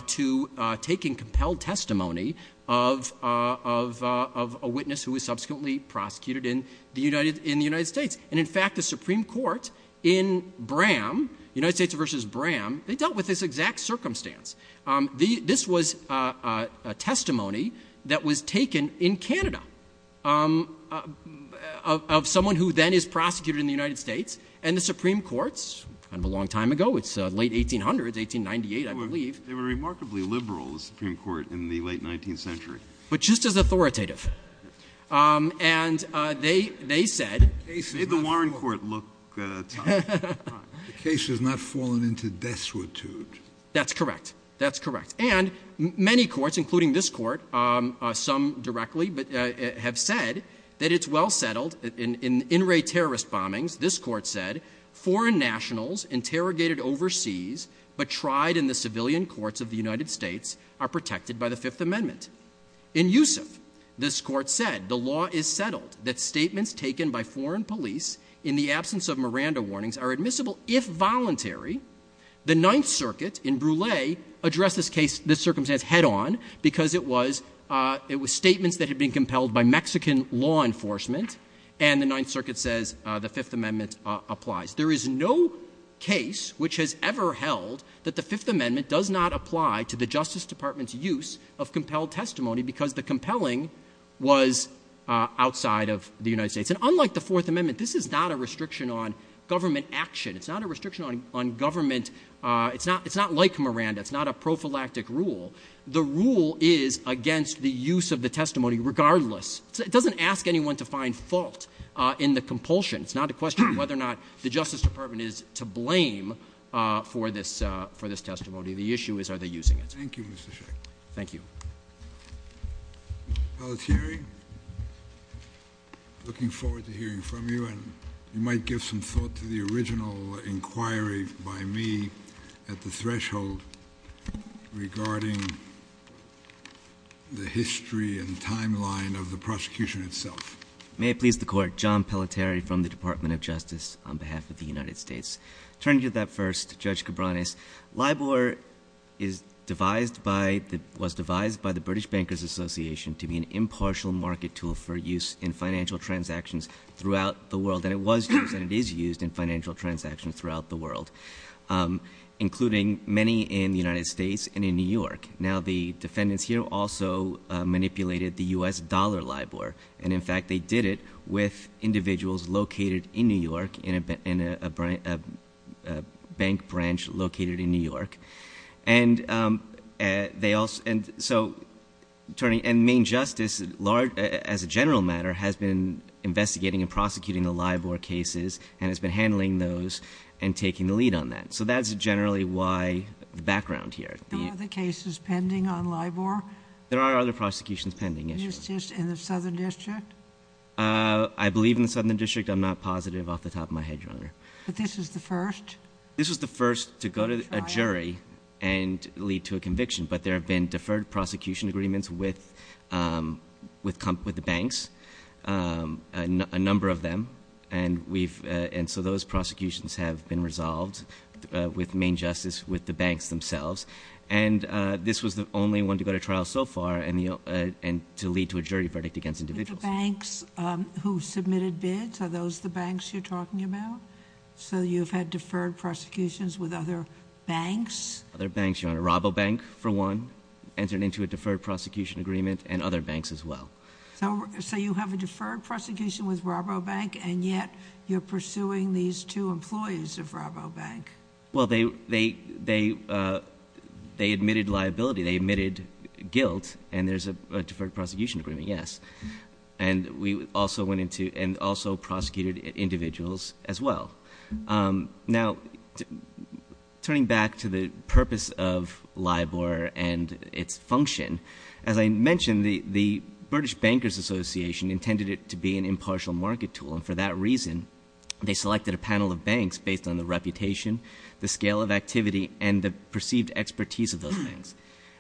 to taking compelled testimony of a witness who was subsequently prosecuted in the United States. And, in fact, the Supreme Court in Bram, United States versus Bram, they dealt with this exact circumstance. This was a testimony that was taken in Canada of someone who then is prosecuted in the United States and the Supreme Court, a long time ago, it's late 1800s, 1898, I believe. They were remarkably liberal, the Supreme Court, in the late 19th century. But just as authoritative. And they said – Did the Warren Court look – The case has not fallen into destitute. That's correct. That's correct. And many courts, including this court, some directly, have said that it's well settled. In in-ray terrorist bombings, this court said, foreign nationals interrogated overseas but tried in the civilian courts of the United States are protected by the Fifth Amendment. In Youssef, this court said, the law is settled. The statements taken by foreign police in the absence of Miranda warnings are admissible if voluntary. The Ninth Circuit in Brule addressed this case, this circumstance, head on because it was statements that had been compelled by Mexican law enforcement. And the Ninth Circuit says the Fifth Amendment applies. There is no case which has ever held that the Fifth Amendment does not apply to the Justice Department's use of compelled testimony because the compelling was outside of the United States. And unlike the Fourth Amendment, this is not a restriction on government action. It's not a restriction on government. It's not like Miranda. It's not a prophylactic rule. The rule is against the use of the testimony regardless. It doesn't ask anyone to find fault in the compulsion. It's not a question of whether or not the Justice Department is to blame for this testimony. The issue is are they using it. Thank you, Mr. Shea. Thank you. Alexei, looking forward to hearing from you. You might give some thought to the original inquiry by me at the threshold regarding the history and timeline of the prosecution itself. May it please the Court. John Pelletieri from the Department of Justice on behalf of the United States. Turning to that first, Judge Cabranes, LIBOR was devised by the British Bankers Association to be an impartial market tool for use in financial transactions throughout the world. And it was and is used in financial transactions throughout the world, including many in the United States and in New York. Now, the defendants here also manipulated the U.S. dollar LIBOR. And, in fact, they did it with individuals located in New York in a bank branch located in New York. And the main justice, as a general matter, has been investigating and prosecuting the LIBOR cases and has been handling those and taking the lead on that. So that's generally the background here. Are there other cases pending on LIBOR? There are other prosecutions pending, yes. Is this in the Southern District? I believe in the Southern District. I'm not positive off the top of my head, Your Honor. But this is the first? This is the first to go to a jury and lead to a conviction. But there have been deferred prosecution agreements with the banks, a number of them. And so those prosecutions have been resolved with main justice with the banks themselves. And this was the only one to go to trial so far and to lead to a jury verdict against individuals. The banks who submitted bids, are those the banks you're talking about? So you've had deferred prosecutions with other banks? Other banks, Your Honor. Rabobank, for one, entered into a deferred prosecution agreement, and other banks as well. So you have a deferred prosecution with Rabobank, and yet you're pursuing these two employees of Rabobank. Well, they admitted liability. They admitted guilt, and there's a deferred prosecution agreement, yes. And we also went into and also prosecuted individuals as well. Now, turning back to the purpose of LIBOR and its function, as I mentioned, the British Bankers Association intended it to be an impartial market tool, and for that reason they selected a panel of banks based on the reputation, the scale of activity, and the perceived expertise of those banks.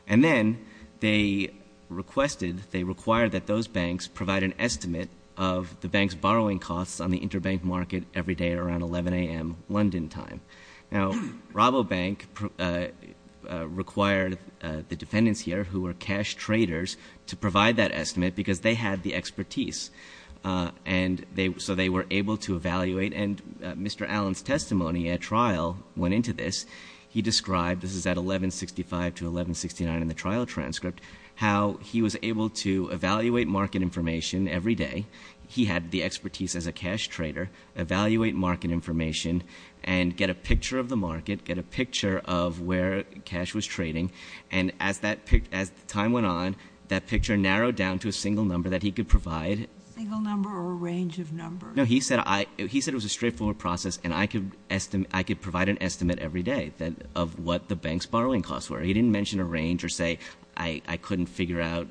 And then they requested, they required that those banks provide an estimate of the banks' borrowing costs on the interbank market every day around 11 a.m. London time. Now, Rabobank required the defendants here, who were cash traders, to provide that estimate because they had the expertise. And so they were able to evaluate, and Mr. Allen's testimony at trial went into this. He described, this is at 1165 to 1169 in the trial transcript, how he was able to evaluate market information every day. He had the expertise as a cash trader, evaluate market information, and get a picture of the market, get a picture of where cash was trading. And as time went on, that picture narrowed down to a single number that he could provide. A single number or a range of numbers? No, he said it was a straightforward process, and I could provide an estimate every day of what the banks' borrowing costs were. He didn't mention a range or say I couldn't figure out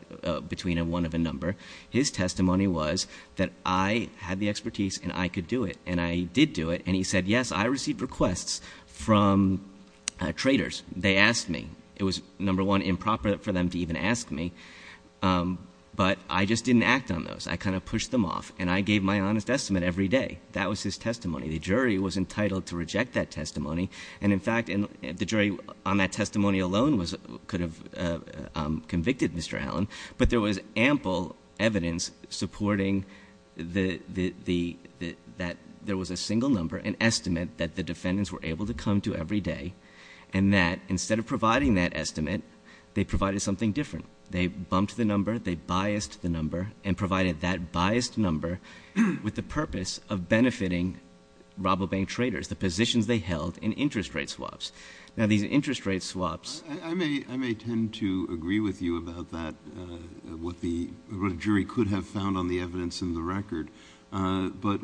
between a one of a number. His testimony was that I had the expertise and I could do it, and I did do it. And he said, yes, I received requests from traders. They asked me. It was, number one, improper for them to even ask me, but I just didn't act on those. I kind of pushed them off, and I gave my honest estimate every day. That was his testimony. The jury was entitled to reject that testimony. And, in fact, the jury on that testimony alone could have convicted Mr. Allen, but there was ample evidence supporting that there was a single number, an estimate that the defendants were able to come to every day, and that instead of providing that estimate, they provided something different. They bumped the number. They biased the number and provided that biased number with the purpose of benefiting robobank traders, the positions they held in interest rate swaps. Now, these interest rate swaps. I may tend to agree with you about that, what the jury could have found on the evidence in the record, but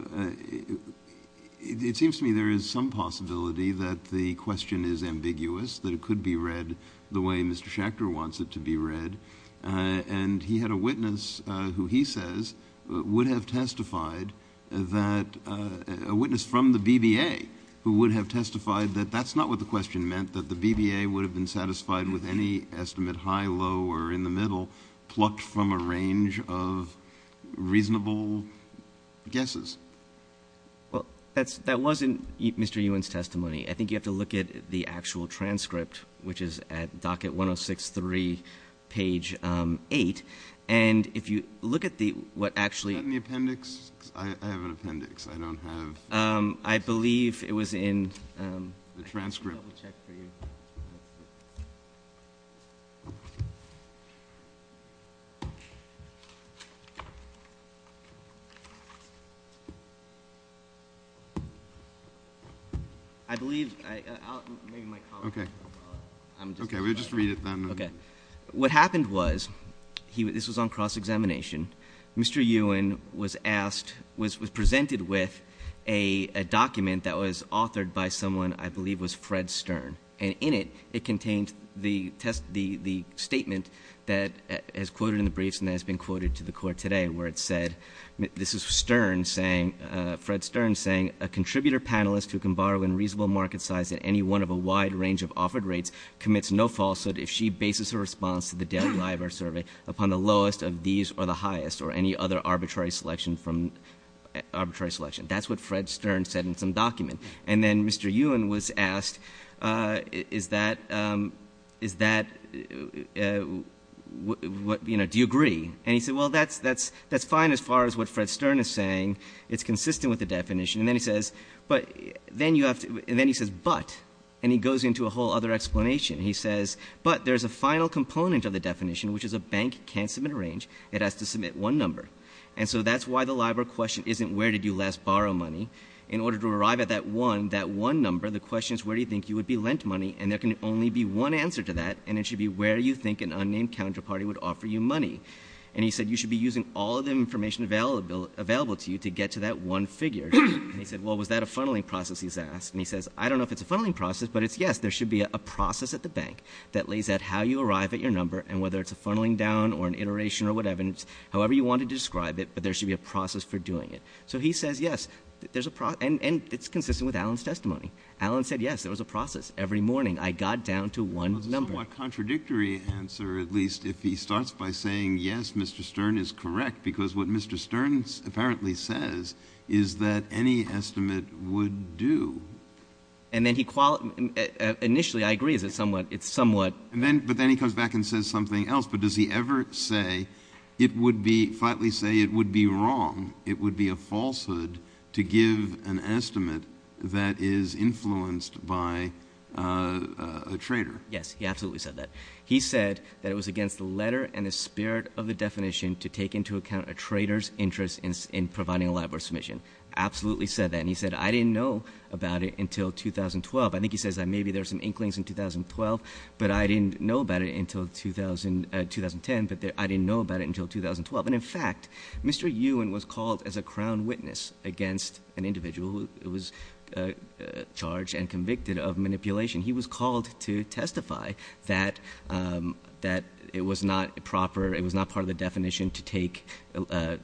it seems to me there is some possibility that the question is ambiguous, that it could be read the way Mr. Schachter wants it to be read, and he had a witness who he says would have testified that a witness from the BBA who would have testified that that's not what the question meant, that the BBA would have been satisfied with any estimate, high, low, or in the middle, plucked from a range of reasonable guesses. Well, that wasn't Mr. Ewan's testimony. I think you have to look at the actual transcript, which is at docket 106.3, page 8, and if you look at what actually the appendix. I have an appendix. I don't have the transcript. Let me double-check for you. I believe I'll make my comment. Okay. Okay, we'll just read it then. Okay. What happened was, this was on cross-examination, Mr. Ewan was presented with a document that was authored by someone I believe was Fred Stern, and in it, it contained the statement that is quoted in the briefs and has been quoted to the court today where it said, this is Fred Stern saying, a contributor panelist who can borrow in reasonable market size at any one of a wide range of offered rates commits no falsehood if she bases her response to the deadline of her survey upon the lowest of these or the highest or any other arbitrary selection. That's what Fred Stern said in some document. And then Mr. Ewan was asked, do you agree? And he said, well, that's fine as far as what Fred Stern is saying. It's consistent with the definition. And then he says, but, and he goes into a whole other explanation. He says, but there's a final component of the definition, which is a bank can't submit a range. It has to submit one number. And so that's why the LIBOR question isn't where did you last borrow money. In order to arrive at that one, that one number, the question is where do you think you would be lent money, and there can only be one answer to that, and it should be where you think an unnamed counterparty would offer you money. And he said, you should be using all of the information available to you to get to that one figure. And he said, well, was that a funneling process he's asked? And he says, I don't know if it's a funneling process, but it's yes, there should be a process at the bank that lays out how you arrive at your number, and whether it's a funneling down or an iteration or whatever, however you want to describe it, but there should be a process for doing it. So he says, yes, there's a process, and it's consistent with Alan's testimony. Alan said, yes, there was a process every morning. I got down to one number. A contradictory answer, at least, if he starts by saying, yes, Mr. Stern is correct, because what Mr. Stern apparently says is that any estimate would do. And then he – initially, I agree that it's somewhat – But then he comes back and says something else. But does he ever say it would be – flatly say it would be wrong, it would be a falsehood to give an estimate that is influenced by a trader? Yes, he absolutely said that. He said that it was against the letter and the spirit of the definition to take into account a trader's interest in providing a LIBOR submission. He absolutely said that, and he said, I didn't know about it until 2012. I think he says that maybe there's some inklings in 2012, but I didn't know about it until 2010, but I didn't know about it until 2012. And, in fact, Mr. Ewan was called as a crown witness against an individual who was charged and convicted of manipulation. He was called to testify that it was not proper – it was not part of the definition to take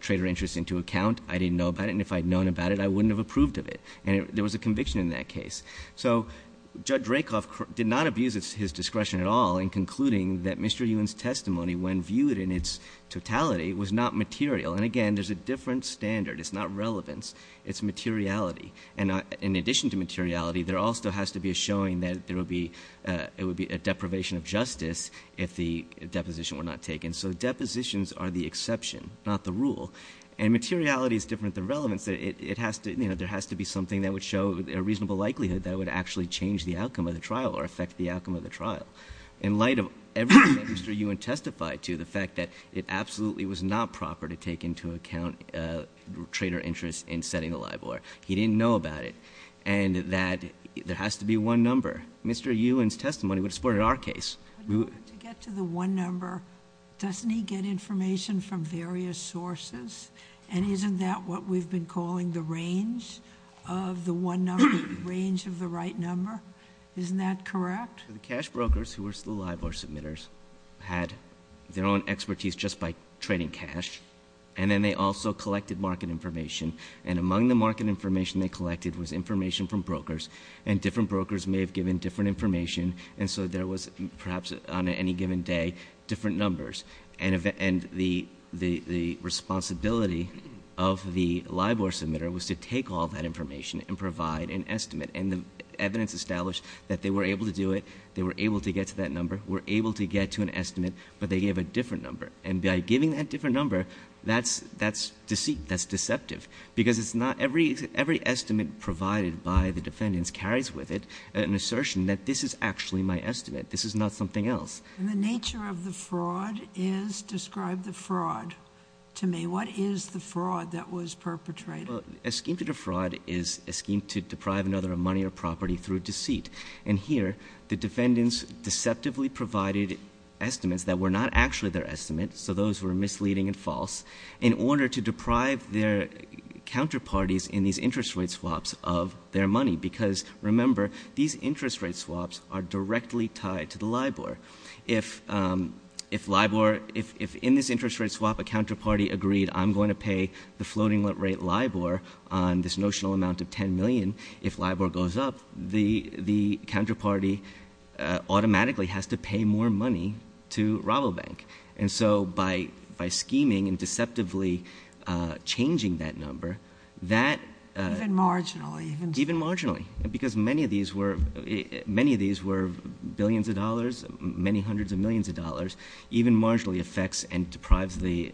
trader interest into account. I didn't know about it, and if I had known about it, I wouldn't have approved of it. And there was a conviction in that case. So Judge Rakoff did not abuse his discretion at all in concluding that Mr. Ewan's testimony, when viewed in its totality, was not material. And, again, there's a different standard. It's not relevance. It's materiality. And in addition to materiality, there also has to be a showing that there would be – it would be a deprivation of justice if the deposition were not taken. So depositions are the exception, not the rule. And materiality is different than relevance. It has to – you know, there has to be something that would show a reasonable likelihood that would actually change the outcome of the trial or affect the outcome of the trial. In light of everything that Mr. Ewan testified to, the fact that it absolutely was not proper to take into account trader interest in setting a live wire. He didn't know about it. And that there has to be one number. Mr. Ewan's testimony would have supported our case. When you get to the one number, doesn't he get information from various sources? And isn't that what we've been calling the range of the one number, the range of the right number? Isn't that correct? The cash brokers who were still live wire submitters had their own expertise just by trading cash. And then they also collected market information. And among the market information they collected was information from brokers. And different brokers may have given different information. And so there was perhaps on any given day different numbers. And the responsibility of the live wire submitter was to take all that information and provide an estimate. And the evidence established that they were able to do it, they were able to get to that number, were able to get to an estimate, but they gave a different number. And by giving that different number, that's deceit, that's deceptive. Because it's not every estimate provided by the defendants carries with it an assertion that this is actually my estimate. This is not something else. The nature of the fraud is describe the fraud to me. What is the fraud that was perpetrated? A scheme to defraud is a scheme to deprive another of money or property through deceit. And here the defendants deceptively provided estimates that were not actually their estimates, so those were misleading and false, in order to deprive their counterparties in these interest rate swaps of their money. Because, remember, these interest rate swaps are directly tied to the LIBOR. If in this interest rate swap a counterparty agreed I'm going to pay the floating rate LIBOR on this notional amount of $10 million, if LIBOR goes up, the counterparty automatically has to pay more money to Rabobank. And so by scheming and deceptively changing that number, that… Even marginally. Even marginally. Because many of these were billions of dollars, many hundreds of millions of dollars, even marginally affects and deprives the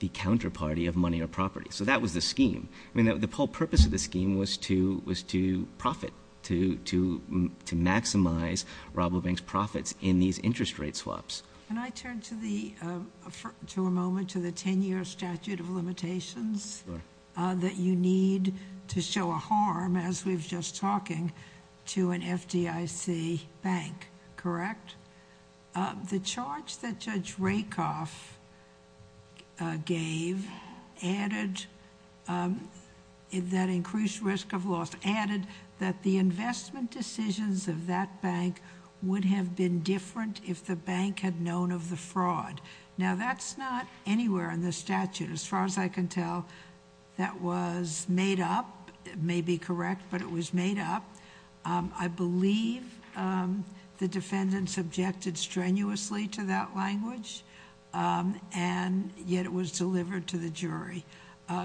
counterparty of money or property. So that was the scheme. The whole purpose of the scheme was to profit, to maximize Rabobank's profits in these interest rate swaps. Can I turn for a moment to the 10-year statute of limitations that you need to show a harm, as we were just talking, to an FDIC bank, correct? The charge that Judge Rakoff gave, that increased risk of loss, added that the investment decisions of that bank would have been different if the bank had known of the fraud. Now, that's not anywhere in the statute. As far as I can tell, that was made up. It may be correct, but it was made up. I believe the defendant subjected strenuously to that language, and yet it was delivered to the jury.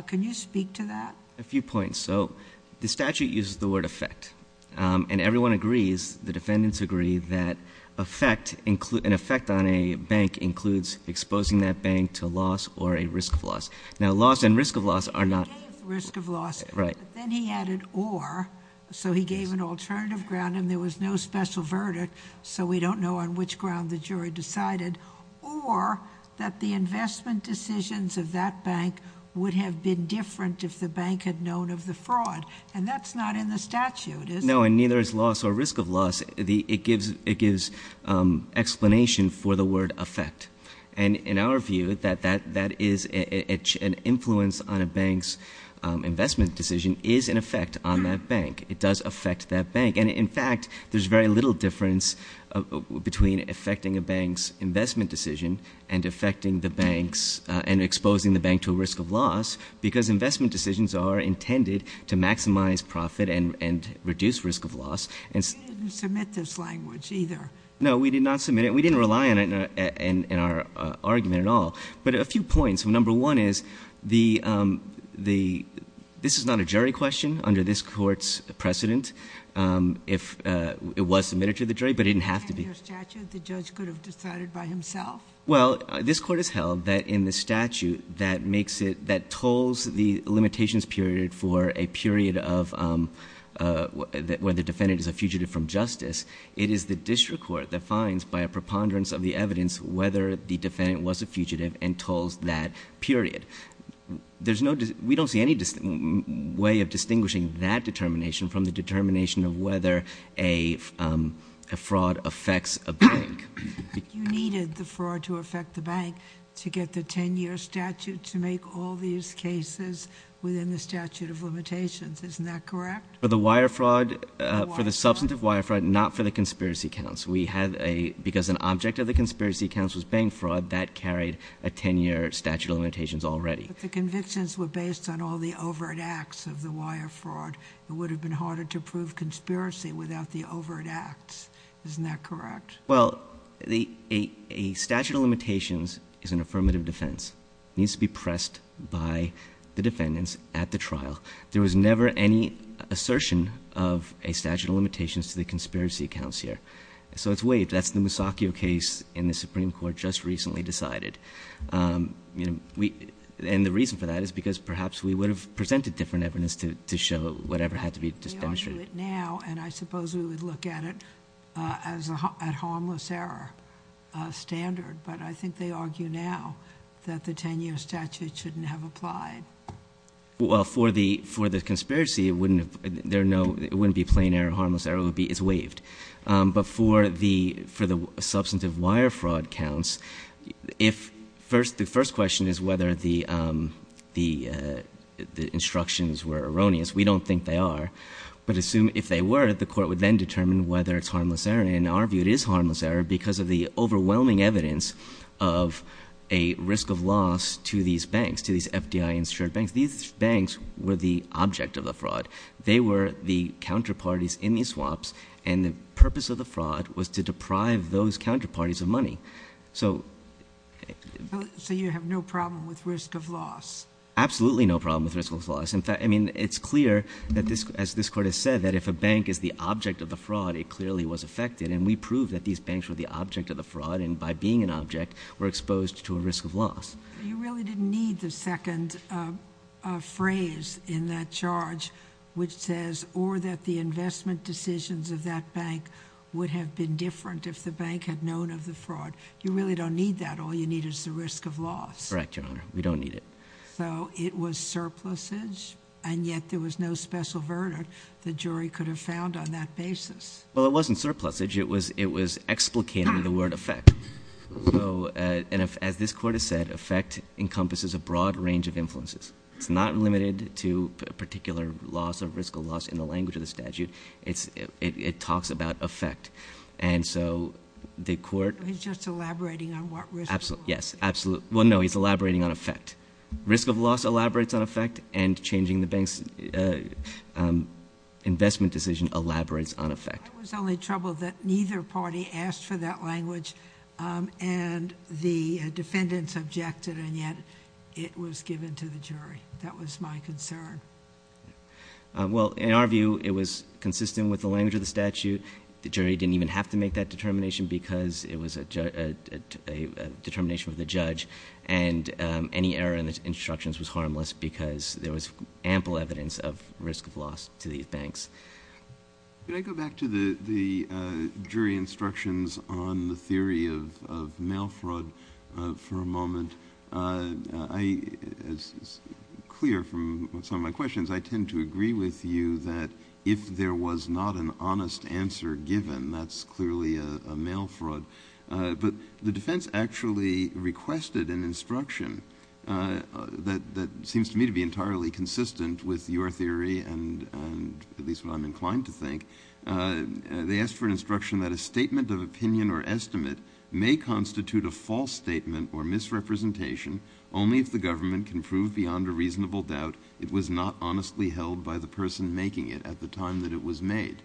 Can you speak to that? A few points. So the statute uses the word effect, and everyone agrees, the defendants agree, that an effect on a bank includes exposing that bank to loss or a risk of loss. Now, loss and risk of loss are not... Risk of loss. Right. Then he added or, so he gave an alternative ground, and there was no special verdict, so we don't know on which ground the jury decided, or that the investment decisions of that bank would have been different if the bank had known of the fraud, and that's not in the statute, is it? No, and neither is loss or risk of loss. It gives explanation for the word effect, and in our view, that is an influence on a bank's investment decision is an effect on that bank. It does affect that bank, and, in fact, there's very little difference between affecting a bank's investment decision and affecting the bank's and exposing the bank to a risk of loss because investment decisions are intended to maximize profit and reduce risk of loss. You didn't submit this language either. No, we did not submit it. We didn't rely on it in our argument at all, but a few points. Number one is this is not a jury question under this Court's precedent. It was submitted to the jury, but it didn't have to be. In the statute, the judge could have decided by himself. Well, this Court has held that in the statute that tolls the limitations period for a period of whether the defendant is a fugitive from justice, it is the district court that finds by a preponderance of the evidence whether the defendant was a fugitive and tolls that period. We don't see any way of distinguishing that determination from the determination of whether a fraud affects a bank. You needed the fraud to affect the bank to get the 10-year statute to make all these cases within the statute of limitations. Isn't that correct? For the wire fraud, for the substantive wire fraud, not for the conspiracy counts. Because an object of the conspiracy counts was bank fraud, that carried a 10-year statute of limitations already. If the convictions were based on all the overt acts of the wire fraud, it would have been harder to prove conspiracy without the overt acts. Isn't that correct? Well, a statute of limitations is an affirmative defense. It needs to be pressed by the defendants at the trial. There was never any assertion of a statute of limitations to the conspiracy counts here. So it's waived. That's the Masaccio case in the Supreme Court just recently decided. And the reason for that is because perhaps we would have presented different evidence to show whatever had to be dispensed with. They argue it now, and I suppose we would look at it as a harmless error standard. But I think they argue now that the 10-year statute shouldn't have applied. Well, for the conspiracy, it wouldn't be a plain error, harmless error. It's waived. But for the substantive wire fraud counts, the first question is whether the instructions were erroneous. We don't think they are. But if they were, the court would then determine whether it's harmless error. And in our view, it is harmless error because of the overwhelming evidence of a risk of loss to these banks, to these FDI-insured banks. These banks were the object of the fraud. They were the counterparties in these swaps, and the purpose of the fraud was to deprive those counterparties of money. So you have no problem with risk of loss? Absolutely no problem with risk of loss. In fact, I mean, it's clear, as this court has said, that if a bank is the object of the fraud, it clearly was affected. And we proved that these banks were the object of the fraud, and by being an object, were exposed to a risk of loss. You really didn't need the second phrase in that charge, which says, or that the investment decisions of that bank would have been different if the bank had known of the fraud. You really don't need that. All you need is the risk of loss. Correct, Your Honor. We don't need it. So it was surplusage, and yet there was no special verdict the jury could have found on that basis. Well, it wasn't surplusage. It was explicating the word affect. So, as this court has said, affect encompasses a broad range of influences. It's not limited to a particular loss, a risk of loss, in the language of the statute. It talks about affect. And so the court... He's just elaborating on what risk of loss. Yes, absolutely. Well, no, he's elaborating on affect. Risk of loss elaborates on affect, and changing the bank's investment decision elaborates on affect. I was only troubled that neither party asked for that language, and the defendants objected, and yet it was given to the jury. That was my concern. Well, in our view, it was consistent with the language of the statute. The jury didn't even have to make that determination because it was a determination of the judge, and any error in the instructions was harmless because there was ample evidence of risk of loss to these banks. Could I go back to the jury instructions on the theory of mail fraud for a moment? It's clear from some of my questions, I tend to agree with you that if there was not an honest answer given, that's clearly a mail fraud. But the defense actually requested an instruction that seems to me to be entirely consistent with your theory, at least what I'm inclined to think. They asked for an instruction that a statement of opinion or estimate may constitute a false statement or misrepresentation only if the government can prove beyond a reasonable doubt it was not honestly held by the person making it at the time that it was made.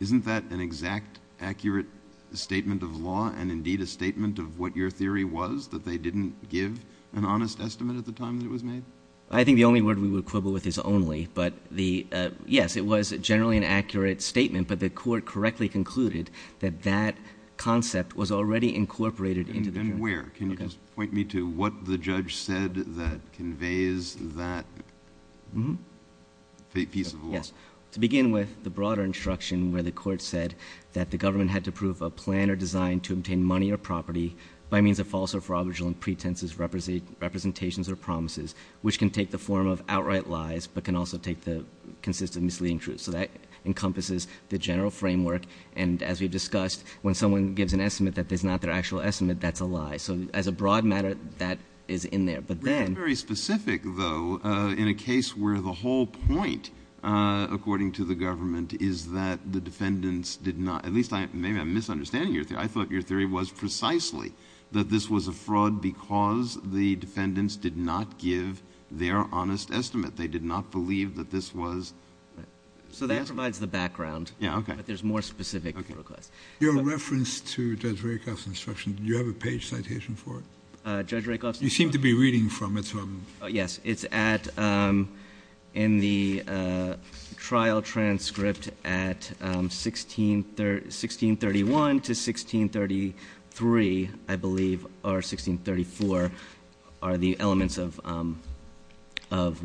Isn't that an exact, accurate statement of law and indeed a statement of what your theory was, that they didn't give an honest estimate at the time that it was made? I think the only word we would quibble with is only, but yes, it was generally an accurate statement, but the court correctly concluded that that concept was already incorporated. Then where? Can you just point me to what the judge said that conveys that piece of the law? To begin with, the broader instruction where the court said that the government had to prove a plan or design to obtain money or property by means of false or fraudulent pretenses, representations, or promises, which can take the form of outright lies but can also take the consistent misleading truth. So that encompasses the general framework, and as we discussed, when someone gives an estimate that is not their actual estimate, that's a lie. So as a broad matter, that is in there. That's very specific, though, in a case where the whole point, according to the government, is that the defendants did not, at least maybe I'm misunderstanding your theory. I thought your theory was precisely that this was a fraud because the defendants did not give their honest estimate. They did not believe that this was a fraud. So that provides the background, but there's more specifics. Your reference to Judge Rakoff's instruction, do you have a page citation for it? Judge Rakoff's instruction? You seem to be reading from it. Yes, it's in the trial transcript at 1631 to 1633, I believe, or 1634, are the elements of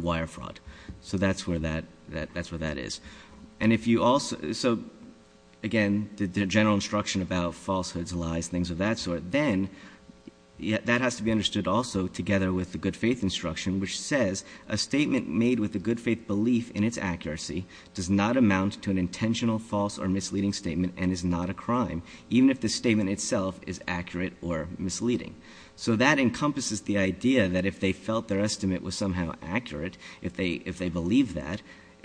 wire fraud. So that's where that is. So again, the general instruction about falsehoods, lies, things of that sort. But then that has to be understood also together with the good faith instruction, which says a statement made with a good faith belief in its accuracy does not amount to an intentional false or misleading statement and is not a crime, even if the statement itself is accurate or misleading. So that encompasses the idea that if they felt their estimate was somehow accurate, if they believed that,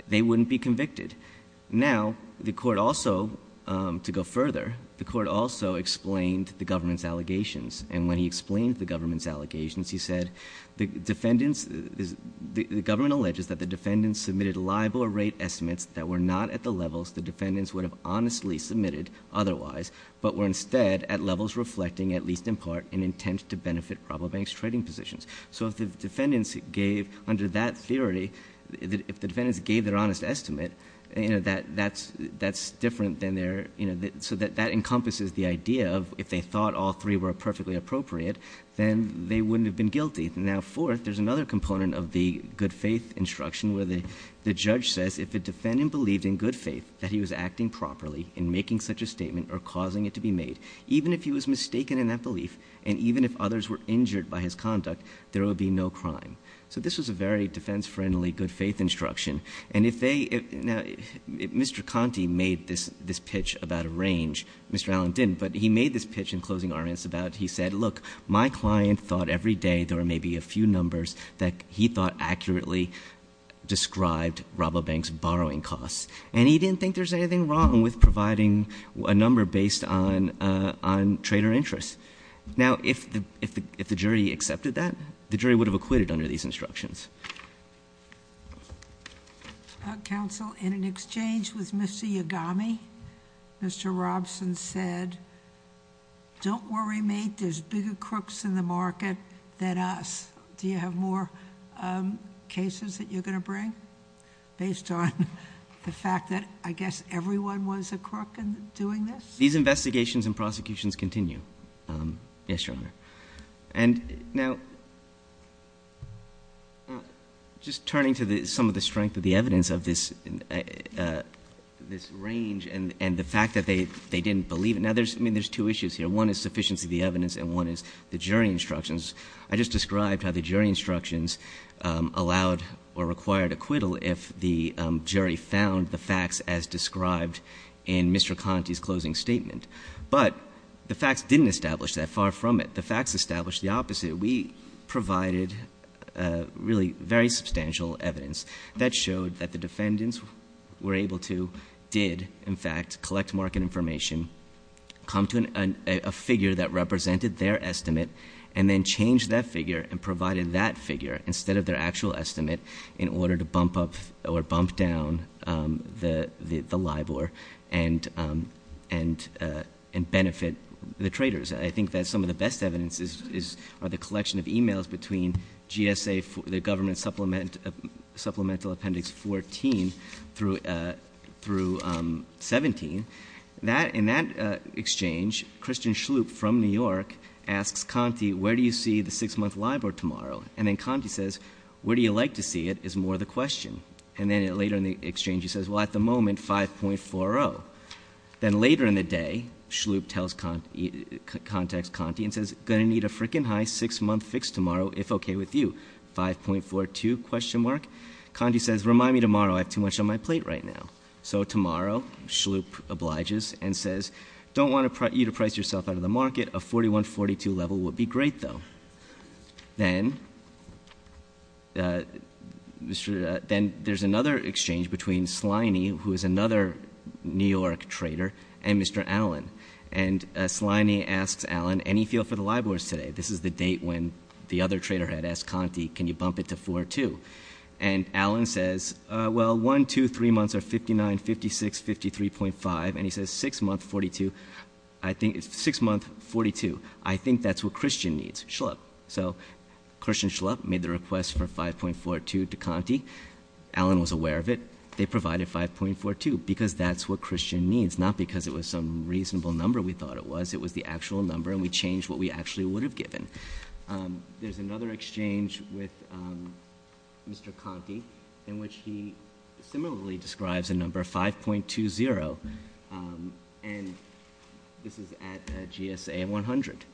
they wouldn't be convicted. Now, the court also, to go further, the court also explained the government's allegations. And when he explained the government's allegations, he said, the government alleges that the defendants submitted liable or rate estimates that were not at the levels the defendants would have honestly submitted otherwise, but were instead at levels reflecting, at least in part, an intent to benefit probable banks' trading positions. So if the defendants gave under that theory, if the defendants gave their honest estimate, that's different than their, so that encompasses the idea of if they thought all three were perfectly appropriate, then they wouldn't have been guilty. Now, fourth, there's another component of the good faith instruction where the judge says if the defendant believed in good faith that he was acting properly in making such a statement or causing it to be made, even if he was mistaken in that belief and even if others were injured by his conduct, there would be no crime. So this was a very defense-friendly good faith instruction. And if they, if Mr. Conte made this pitch about a range, Mr. Allen didn't, but he made this pitch in closing arguments about, he said, look, my client thought every day there were maybe a few numbers that he thought accurately described probable banks' borrowing costs. And he didn't think there was anything wrong with providing a number based on trader interest. Now, if the jury accepted that, the jury would have acquitted under these instructions. Counsel, in an exchange with Mr. Yagami, Mr. Robson said, don't worry, mate, there's bigger crooks in the market than us. Do you have more cases that you're going to bring based on the fact that I guess everyone was a crook in doing this? These investigations and prosecutions continue. Yes, Your Honor. And now, just turning to some of the strength of the evidence of this range and the fact that they didn't believe it. Now, I mean, there's two issues here. One is sufficiency of the evidence and one is the jury instructions. I just described how the jury instructions allowed or required acquittal if the jury found the facts as described in Mr. Conte's closing statement. But the facts didn't establish that far from it. The facts established the opposite. We provided really very substantial evidence that showed that the defendants were able to, did, in fact, collect market information, come to a figure that represented their estimate, and then changed that figure and provided that figure instead of their actual estimate in order to bump up or bump down the LIBOR and benefit the traders. I think that some of the best evidence is the collection of e-mails between GSA, the government supplemental appendix 14 through 17. In that exchange, Christian Schlup from New York asks Conte, where do you see the six-month LIBOR tomorrow? And then Conte says, where do you like to see it is more the question. And then later in the exchange he says, well, at the moment, 5.40. Then later in the day, Schlup contacts Conte and says, going to need a freaking high six-month fix tomorrow if okay with you, 5.42? Conte says, remind me tomorrow. I have too much on my plate right now. So tomorrow, Schlup obliges and says, don't want you to price yourself out of the market. A 41-42 level would be great, though. Then there's another exchange between Sliney, who is another New York trader, and Mr. Allen. And Sliney asks Allen, any feel for the LIBORs today? This is the date when the other trader had asked Conte, can you bump it to 4.2? And Allen says, well, one, two, three months are 59.56, 53.5. And he says, six months, 42. I think it's six months, 42. I think that's what Christian needs, Schlup. So Christian Schlup made the request for 5.42 to Conte. Allen was aware of it. They provided 5.42 because that's what Christian needs, not because it was some reasonable number we thought it was. It was the actual number, and we changed what we actually would have given. There's another exchange with Mr. Conte, in which he similarly describes a number of 5.20. And this is at GSA 100.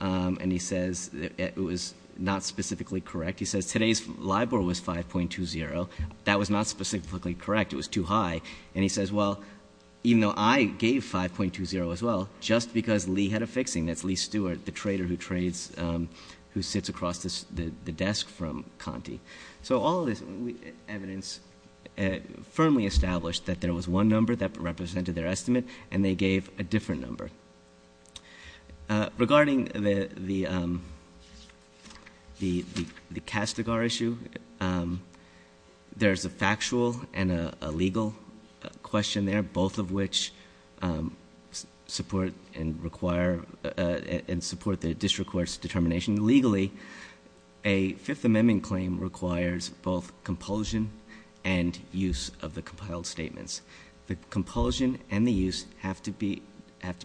And he says that it was not specifically correct. He says today's LIBOR was 5.20. That was not specifically correct. It was too high. And he says, well, even though I gave 5.20 as well, just because Lee had a fixing. That's Lee Stewart, the trader who trades, who sits across the desk from Conte. So all of this evidence firmly established that there was one number that represented their estimate, and they gave a different number. Regarding the Castagar issue, there's a factual and a legal question there, both of which support and require and support the district court's determination. Legally, a Fifth Amendment claim requires both compulsion and use of the compiled statements. The compulsion and the use have to be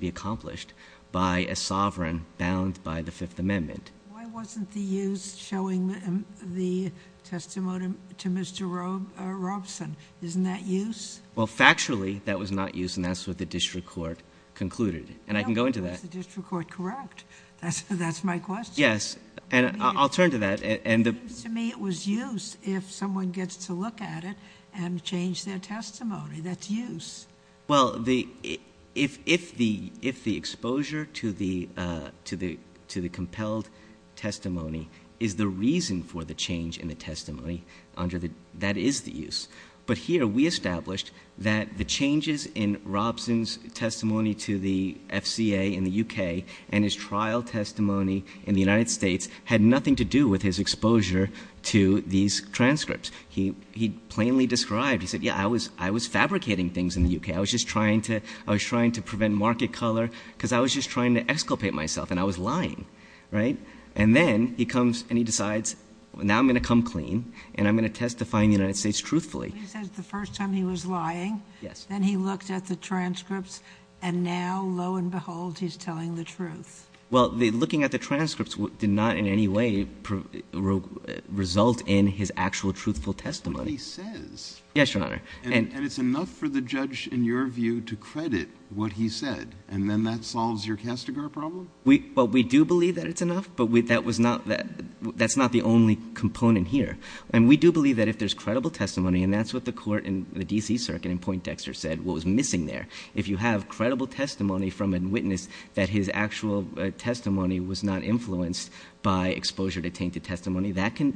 accomplished by a sovereign bound by the Fifth Amendment. Why wasn't the use showing the testimony to Mr. Robeson? Isn't that use? Well, factually, that was not use, and that's what the district court concluded. And I can go into that. The district court, correct. That's my question. Yes. And I'll turn to that. To me, it was use if someone gets to look at it and change their testimony. That's use. Well, if the exposure to the compelled testimony is the reason for the change in the testimony, that is the use. But here we established that the changes in Robeson's testimony to the FCA in the U.K. and his trial testimony in the United States had nothing to do with his exposure to these transcripts. He plainly described, he said, yeah, I was fabricating things in the U.K. I was just trying to prevent market color because I was just trying to exculpate myself, and I was lying, right? And then he comes and he decides, now I'm going to come clean and I'm going to testify in the United States truthfully. He says the first time he was lying. Yes. Then he looked at the transcripts, and now, lo and behold, he's telling the truth. Well, looking at the transcripts did not in any way result in his actual truthful testimony. But he says. Yes, Your Honor. And it's enough for the judge, in your view, to credit what he said, and then that solves your Castigar problem? Well, we do believe that it's enough, but that's not the only component here. And we do believe that if there's credible testimony, and that's what the court in the D.C. Circuit in Point Dexter said was missing there, if you have credible testimony from a witness that his actual testimony was not influenced by exposure to tainted testimony, that can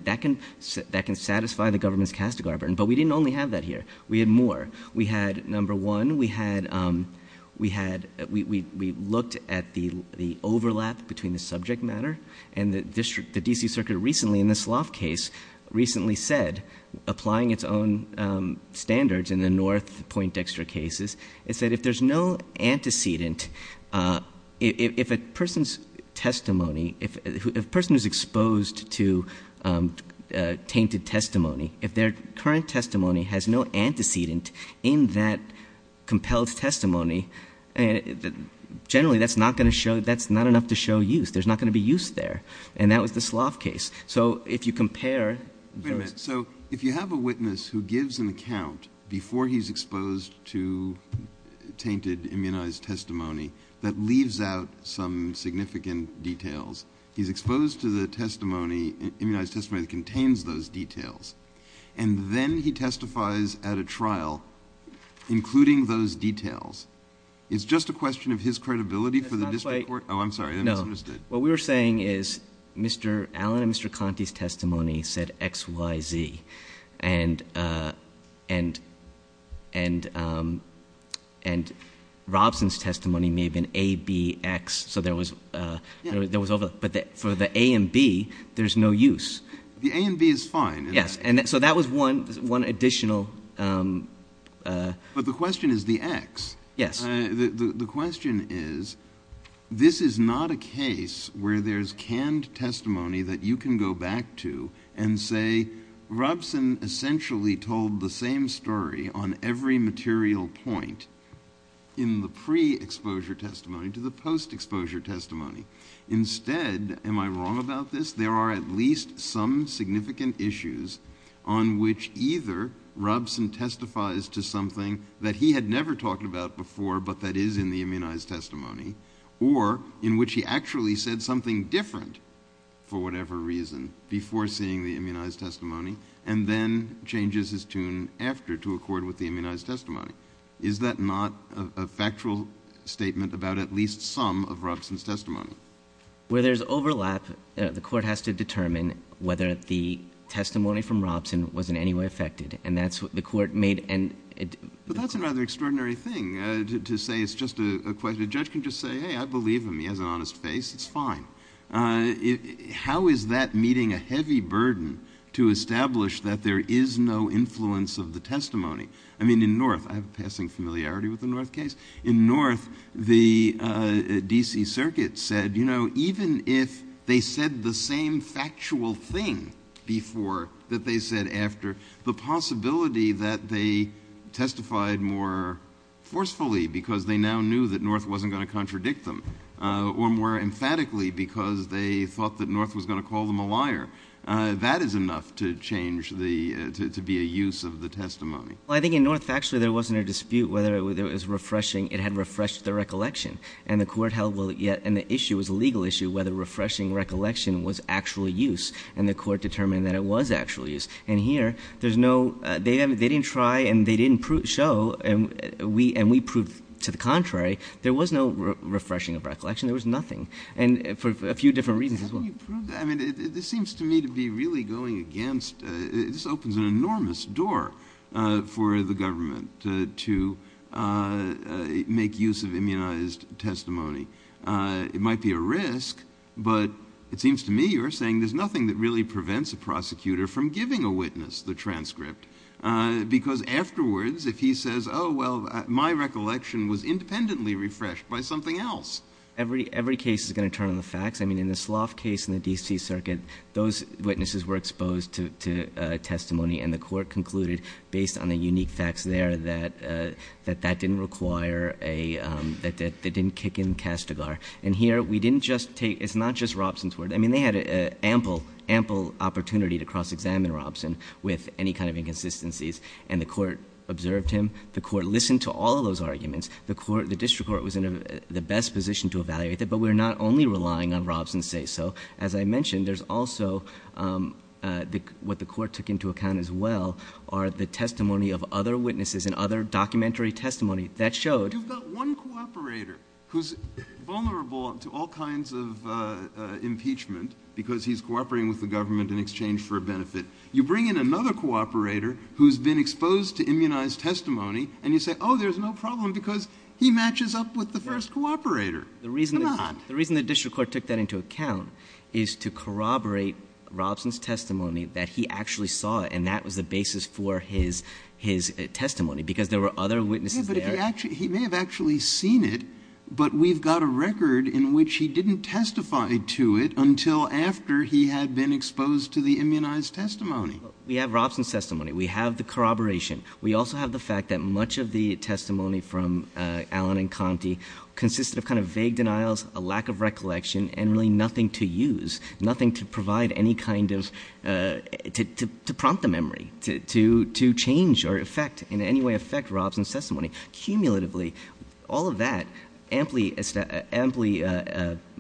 satisfy the government's Castigar burden. But we didn't only have that here. We had more. We had, number one, we looked at the overlap between the subject matter and the D.C. Circuit recently, in this Loft case, recently said, applying its own standards in the North Point Dexter cases, it said if there's no antecedent, if a person's testimony, if a person is exposed to tainted testimony, if their current testimony has no antecedent in that compelled testimony, generally that's not enough to show use. There's not going to be use there. And that was the Loft case. So if you compare... Wait a minute. So if you have a witness who gives an account before he's exposed to tainted, immunized testimony that leaves out some significant details, he's exposed to the testimony, immunized testimony that contains those details, and then he testifies at a trial, including those details, it's just a question of his credibility for the district court? Oh, I'm sorry. No. What we were saying is Mr. Allen and Mr. Conte's testimony said X, Y, Z. And Robson's testimony may have been A, B, X. But for the A and B, there's no use. The A and B is fine. Yes, and so that was one additional... But the question is the X. Yes. The question is, this is not a case where there's canned testimony that you can go back to and say, Robson essentially told the same story on every material point in the pre-exposure testimony to the post-exposure testimony. Instead, am I wrong about this, there are at least some significant issues on which either Robson testifies to something that he had never talked about before but that is in the immunized testimony or in which he actually said something different for whatever reason before seeing the immunized testimony and then changes his tune after to accord with the immunized testimony. Is that not a factual statement about at least some of Robson's testimony? Where there's overlap, the court has to determine whether the testimony from Robson was in any way affected, and that's what the court made... But that's a rather extraordinary thing to say it's just a question. A judge can just say, hey, I believe him. He has an honest face. It's fine. How is that meeting a heavy burden to establish that there is no influence of the testimony? I mean, in North... I have a passing familiarity with the North case. In North, the D.C. Circuit said, you know, even if they said the same factual thing before that they said after, the possibility that they testified more forcefully because they now knew that North wasn't going to contradict them or more emphatically because they thought that North was going to call them a liar. That is enough to change the... to be a use of the testimony. Well, I think in North, actually, there wasn't a dispute whether it was refreshing. It had refreshed the recollection, and the court held... And the issue was a legal issue whether refreshing recollection was actually use, and the court determined that it was actually use. And here, there's no... They didn't try, and they didn't show, and we proved to the contrary that there was no refreshing of recollection. There was nothing. And for a few different reasons as well. I mean, this seems to me to be really going against... This opens an enormous door for the government to make use of immunized testimony. It might be a risk, but it seems to me you're saying there's nothing that really prevents a prosecutor from giving a witness the transcript because afterwards, if he says, Oh, well, my recollection was independently refreshed by something else. Every case is going to turn on the facts. I mean, in the Slough case in the D.C. Circuit, those witnesses were exposed to testimony, and the court concluded, based on the unique facts there, that that didn't require a... That didn't kick in Kastigar. And here, we didn't just take... It's not just Robson's word. I mean, they had an ample, ample opportunity to cross-examine Robson with any kind of inconsistencies, and the court observed him. The court listened to all those arguments. The district court was in the best position to evaluate it, but we're not only relying on Robson's say-so. As I mentioned, there's also... What the court took into account as well are the testimony of other witnesses and other documentary testimony that showed... You've got one cooperator who's vulnerable to all kinds of impeachment because he's cooperating with the government in exchange for a benefit. You bring in another cooperator who's been exposed to immunized testimony, and you say, oh, there's no problem because he matches up with the first cooperator. The reason the district court took that into account is to corroborate Robson's testimony that he actually saw it, and that was the basis for his testimony because there were other witnesses there. Yeah, but he may have actually seen it, but we've got a record in which he didn't testify to it until after he had been exposed to the immunized testimony. We have Robson's testimony. We have the corroboration. We also have the fact that much of the testimony from Allen and Conte consists of kind of vague denials, a lack of recollection, and really nothing to use, nothing to provide any kind of... to prompt a memory, to change or affect, in any way affect, Robson's testimony. Cumulatively, all of that amply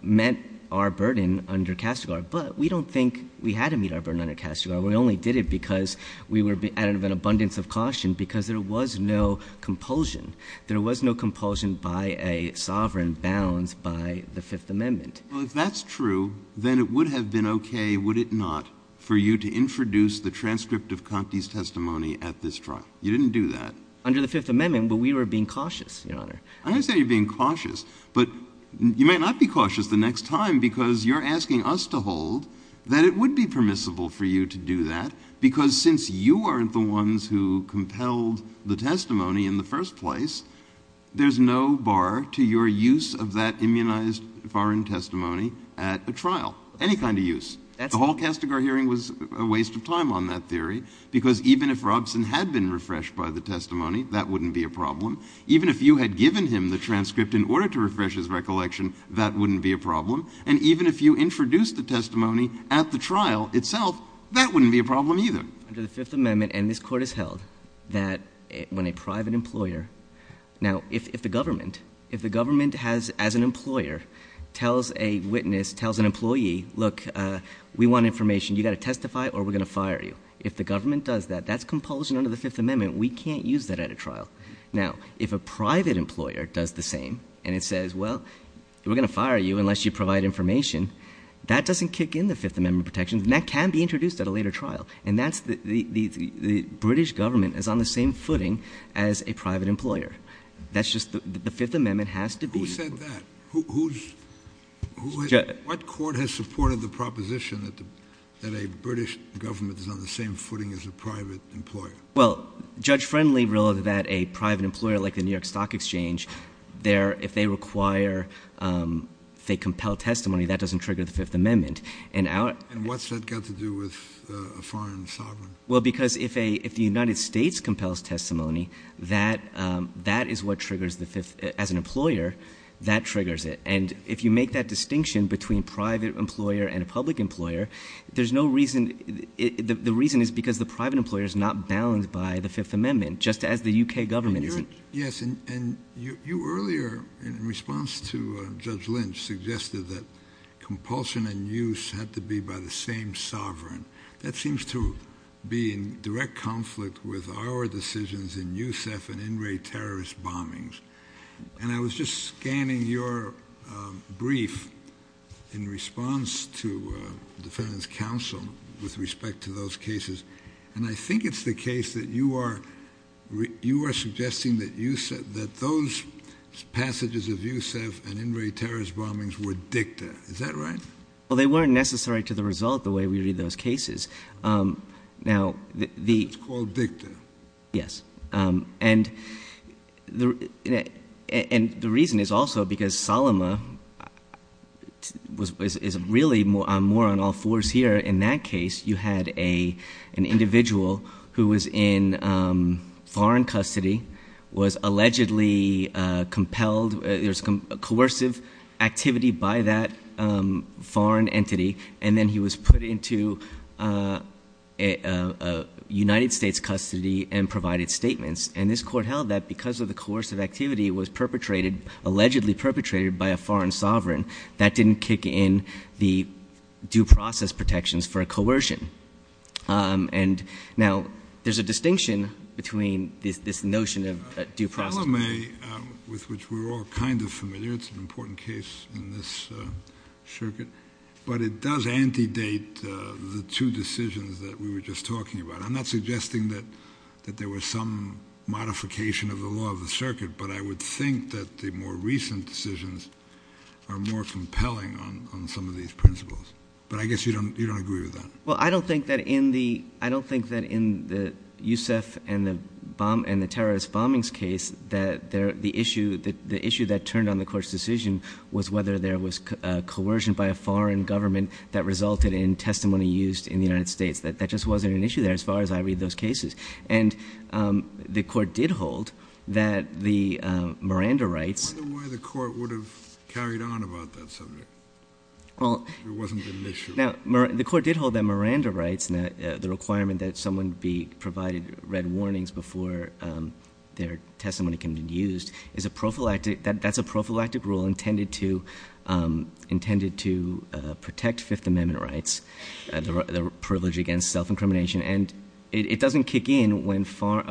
meant our burden under Katsigar, but we don't think we had to meet our burden under Katsigar. We only did it because we were at an abundance of caution because there was no compulsion. There was no compulsion by a sovereign bound by the Fifth Amendment. Well, if that's true, then it would have been okay, would it not, for you to introduce the transcript of Conte's testimony at this trial. You didn't do that. Under the Fifth Amendment, but we were being cautious, Your Honor. I understand you're being cautious, but you may not be cautious the next time because you're asking us to hold that it would be permissible for you to do that because since you aren't the ones who compelled the testimony in the first place, there's no bar to your use of that immunized foreign testimony at a trial. Any kind of use. The whole Katsigar hearing was a waste of time on that theory because even if Robson had been refreshed by the testimony, that wouldn't be a problem. Even if you had given him the transcript in order to refresh his recollection, that wouldn't be a problem. And even if you introduced the testimony at the trial itself, that wouldn't be a problem either. Under the Fifth Amendment, and this Court has held, that when a private employer, now, if the government, if the government has, as an employer, tells a witness, tells an employee, look, we want information. You've got to testify or we're going to fire you. If the government does that, that's compulsion under the Fifth Amendment. We can't use that at a trial. Now, if a private employer does the same and it says, well, we're going to fire you unless you provide information, that doesn't kick in the Fifth Amendment protections and that can be introduced at a later trial. And that's, the British government is on the same footing as a private employer. That's just, the Fifth Amendment has to be... Who said that? Who's... What court has supported the proposition that a British government is on the same footing as a private employer? Well, Judge Friendly ruled that a private employer like the New York Stock Exchange, if they require, say, compelled testimony, that doesn't trigger the Fifth Amendment. And what's that got to do with a foreign sovereign? Well, because if a... If the United States compels testimony, that is what triggers the Fifth... As an employer, that triggers it. And if you make that distinction between private employer and a public employer, there's no reason... The reason is because the private employer is not bound by the Fifth Amendment, just as the U.K. government is. Yes. And you earlier, in response to Judge Lynch, suggested that compulsion and use had to be by the same sovereign. That seems to be in direct conflict with our decisions in Youssef and Inouye terrorist bombings. And I was just scanning your brief in response to the Defendant's Counsel with respect to those cases, and I think it's the case that you are... You are suggesting that those passages of Youssef and Inouye terrorist bombings were dicta. Is that right? Well, they weren't necessary to the result the way we read those cases. Now, the... It's called dicta. Yes. And the reason is also because Salama is really more on all fours here. In that case, you had an individual who was in foreign custody, was allegedly compelled... It was coercive activity by that foreign entity, and then he was put into United States custody and provided statements. And this court held that because of the coercive activity was perpetrated, allegedly perpetrated by a foreign sovereign, that didn't kick in the due process protections for coercion. And now, there's a distinction between this notion of due process... Salama, with which we're all kind of familiar, it's an important case in this circuit, but it does antedate the two decisions that we were just talking about. I'm not suggesting that there was some modification of the law of the circuit, but I would think that the more recent decisions are more compelling on some of these principles. But I guess you don't agree with that. Well, I don't think that in the... I don't think that in the Yousef and the terrorist bombings case that the issue that turned on the court's decision was whether there was coercion by a foreign government that resulted in testimony used in the United States. That just wasn't an issue there as far as I read those cases. And the court did hold that the Miranda rights... I don't know why the court would have carried on about that subject. Well... It wasn't an issue. Now, the court did hold that Miranda rights, the requirement that someone be provided red warnings before their testimony can be used, is a prophylactic... That's a prophylactic rule intended to protect Fifth Amendment rights, the privilege against self-incrimination. And it doesn't kick in when foreign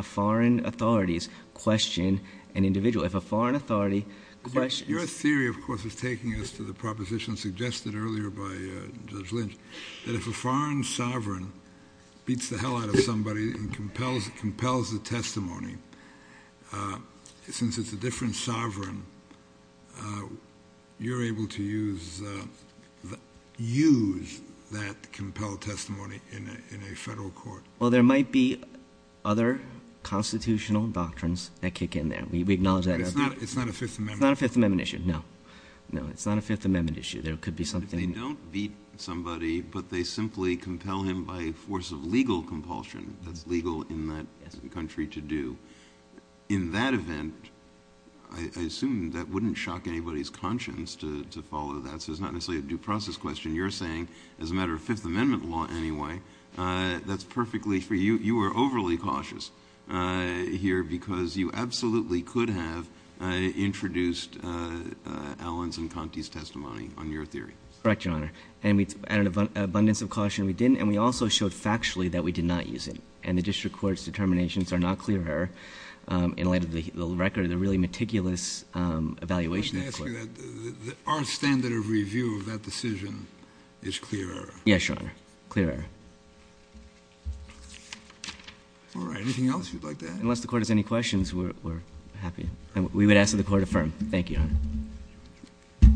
authorities question an individual. If a foreign authority questions... Your theory, of course, is taking us to the proposition suggested earlier and compels the testimony since it's a different sovereign and it's a different country and it's a different country and it's a different country and it's a different state and then you're able to use use that compelled testimony in a federal court. Well there might be other constitutional doctrines that kick in there. We acknowledge that. It's not a Fifth Amendment... It's not a Fifth Amendment issue, no. No it's not a Fifth Amendment issue. There could be something... They don't beat somebody but they simply compel him by force of legal compulsion that's legal in that country to do. In that event I assume that wouldn't shock anybody's conscience to follow that. So it's not necessarily a due process question. You're saying as a matter of Fifth Amendment law anyway that's perfectly for you. You are overly cautious here because you absolutely could have introduced Allen's and Conte's testimony on your theory. Correct, Your Honor. And we added an abundance of caution we didn't and we also showed factually that we did not use it. And the district court's determinations are not clear in light of the record. The really meticulous evaluation is clear. Our standard of review of that decision is clear. Yes, Your Honor. Clear. All right. Anything else you'd like to add? Unless the Court has any questions we're happy. We would ask that the Court affirm. Thank you, Your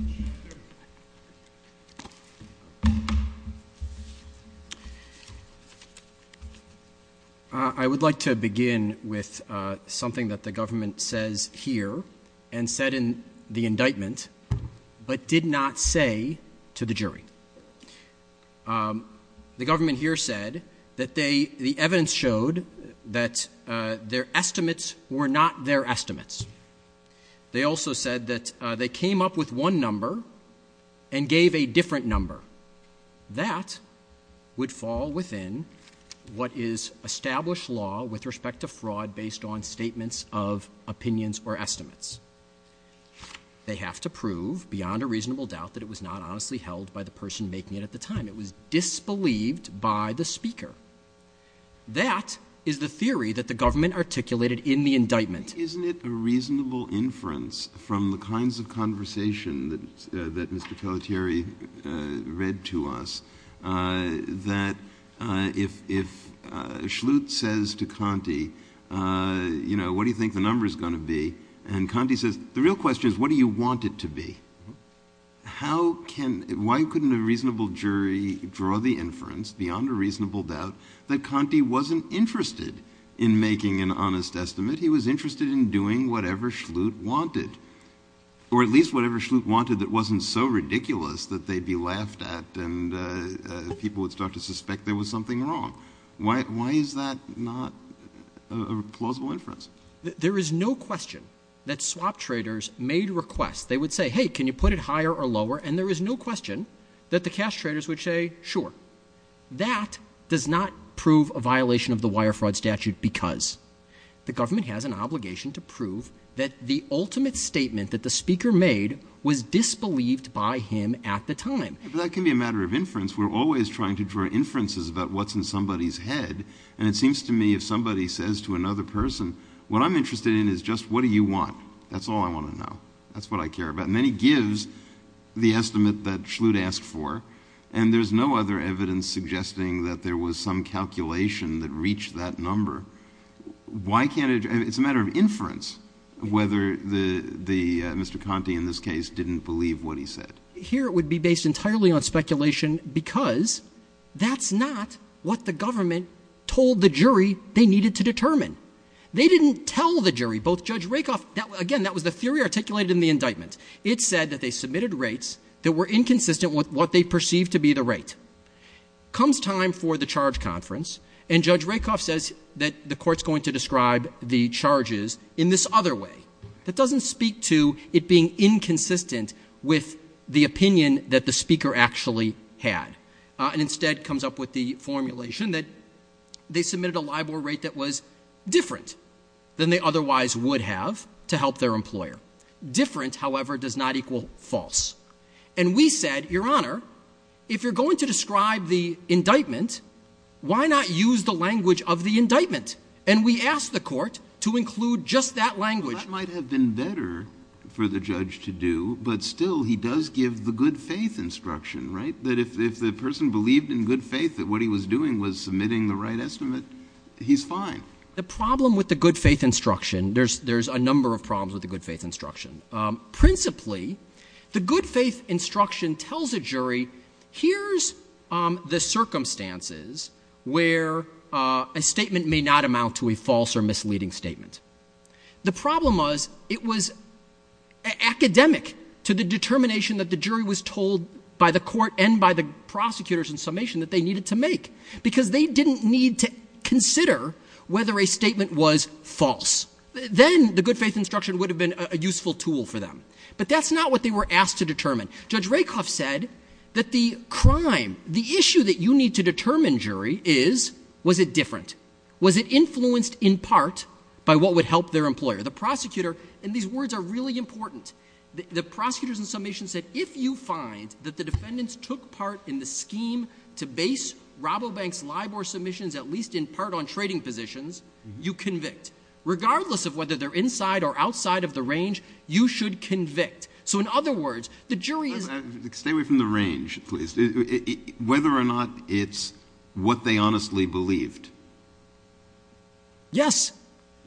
Honor. I would like to begin with something that the government says here and said in the indictment but did not say to the jury. The government here said that they the evidence showed that their estimates were not their estimates. They also said that they came up with one number and gave a different number. That would fall within what is established law with respect to fraud based on statements of opinions or estimates. They have to prove beyond a reasonable doubt that it was not honestly held by the person making it at the time. It was disbelieved by the speaker. That is the theory that the government articulated in the indictment. Isn't it a reasonable inference from the kinds of conversation that Mr. Feliciari read to us that if if Schlute says to Conte you know what do you think the number is going to be and Conte says the real question is what do you want it to be? How can why couldn't a reasonable jury draw the inference beyond a reasonable doubt that Conte wasn't interested in making an honest estimate. He was interested in doing whatever Schlute wanted or at least whatever Schlute wanted that wasn't so ridiculous that they'd be laughed at and people would start to suspect there was something wrong. Why is that not a plausible inference? There is no question that swap traders made requests. They would say hey can you put it higher or lower and there is no question that the cash traders would say sure. That does not prove a violation of the wire fraud statute because the government has an obligation to prove that the ultimate statement that the speaker made was disbelieved by him at the time. That can be a matter of inference. We're always trying to draw inferences about what's in somebody's head and it seems to me if somebody says to another person what I'm interested in is just what do you want? That's all I want to know. That's what I care about. And then he gives the estimate that Schlute asked for and there's no other evidence suggesting that there was some calculation that reached that number. Why can't it and it's a matter of inference whether the Mr. Conte in this case didn't believe what he said. Here it would be based entirely on speculation because that's not what the government told the jury they needed to determine. They didn't tell the jury both Judge Rakoff again that was a theory articulated in the indictment. It said that they submitted rates that were inconsistent with what they perceived to be the rate. Comes time for the charge conference and Judge Rakoff says that the court's going to describe the charges in this other way. That doesn't speak to it being inconsistent with the opinion that the speaker actually had. And instead comes up with the formulation that they submitted a LIBOR rate that was different than they otherwise would have to help their employer. Different however does not equal false. And we said Your Honor if you're going to describe the indictment why not use the language of the indictment and we asked the court to include just that language. That might have been better for the judge to do but still he does give the good faith instruction. But if the person believed in good faith that what he was doing was submitting the right estimate he's fine. The problem with the good faith instruction there's a number of problems with the good faith instruction. Principally the good faith instruction tells a jury here's the circumstances where a statement may not amount to a false or misleading statement. The problem was it was academic to the determination that the jury was told by the court and by the prosecutors in summation that they needed to make because they didn't need to consider whether a statement was false. Then the good faith instruction would have been a useful tool for them. But that's not what they were asked to determine. Judge Rakoff said that the crime the issue that you need to determine jury is was it different? Was it influenced in part by what would help their employer? The prosecutor and these words are really important. The prosecutors in summation said if you find that the defendants took part in the scheme to base Rabobank's LIBOR submissions at least in part on trading positions you convict. Regardless of whether they're inside or outside of the range you should convict. So in other words the jury Stay away from the range please. Whether or not it's what they honestly believed. Yes.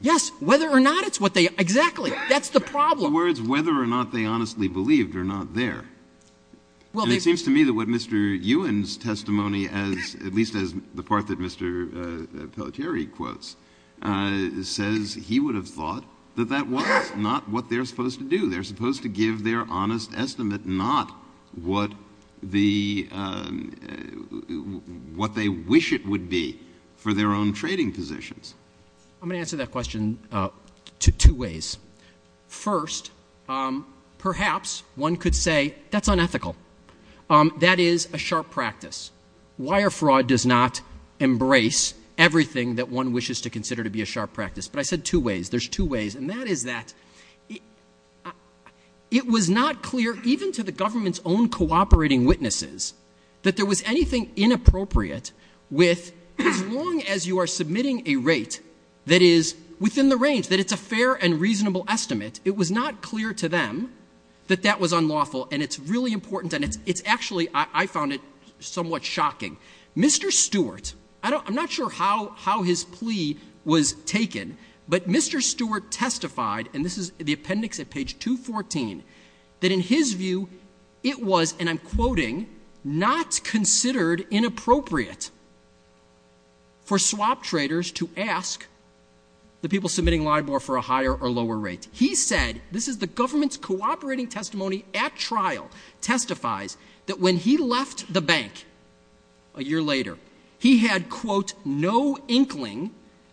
Yes. Whether or not it's what they exactly. That's the problem. In other words whether or not they honestly believed are not there. It seems to me that what Mr. Ewen's testimony at least as the part that Mr. Pelletieri quotes says he would have thought that that was not what they're supposed to do. They're supposed to give their honest estimate not what the what they wish it would be for their own trading positions. I'm going to answer that question two ways. First perhaps one could say that's unethical. That is a sharp practice. Wire fraud does not embrace everything that one wishes to consider to be a sharp practice. I said two ways. There's two ways. That is that it was not clear even to the government's own cooperating witnesses that there was anything inappropriate with as long as you're submitting a rate that is within the range. It's a fair and reasonable thing to do. The government's cooperating testimony at trial testifies he had no inkling that there was anything inappropriate for swap traders to ask the people submitting LIBOR for a higher the government's own testimony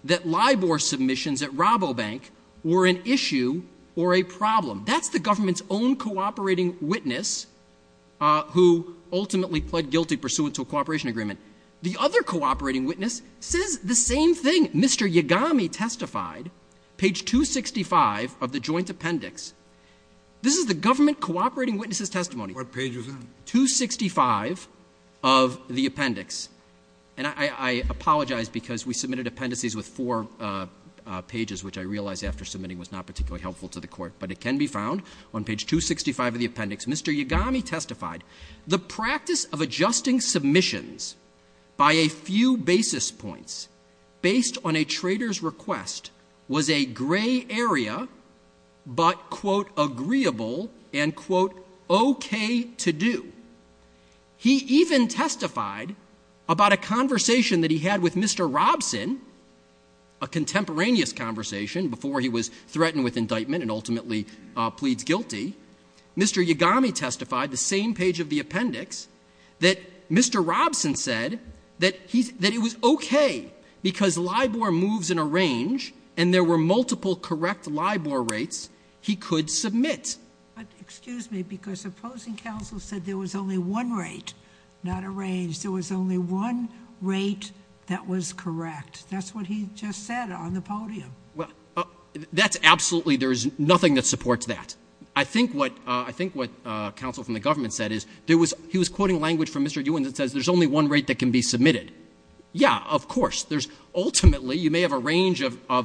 that LIBOR submissions at Rabobank were an issue or a problem. That's the government's own cooperating witness who ultimately pled guilty pursuant to a cooperation agreement. The other cooperating witness says the same thing. Mr. Yagami testified the practice of adjusting submissions by a few basis points based on a trader's request was a gray area but quote agreeable and quote okay to do. He even testified about a conversation that he had with Mr. Robson a contemporaneous conversation before he was threatened with indictment and ultimately pleads guilty. Mr. Yagami testified the same page of the appendix that Mr. Robson said that it was okay because LIBOR moves in a range and there were multiple Robson testified that there was only one rate that was correct. That's what he just said on the podium. Absolutely there is nothing that supports that. I think what council from the government said is there was only one rate that can be submitted. Ultimately you may be contradicted by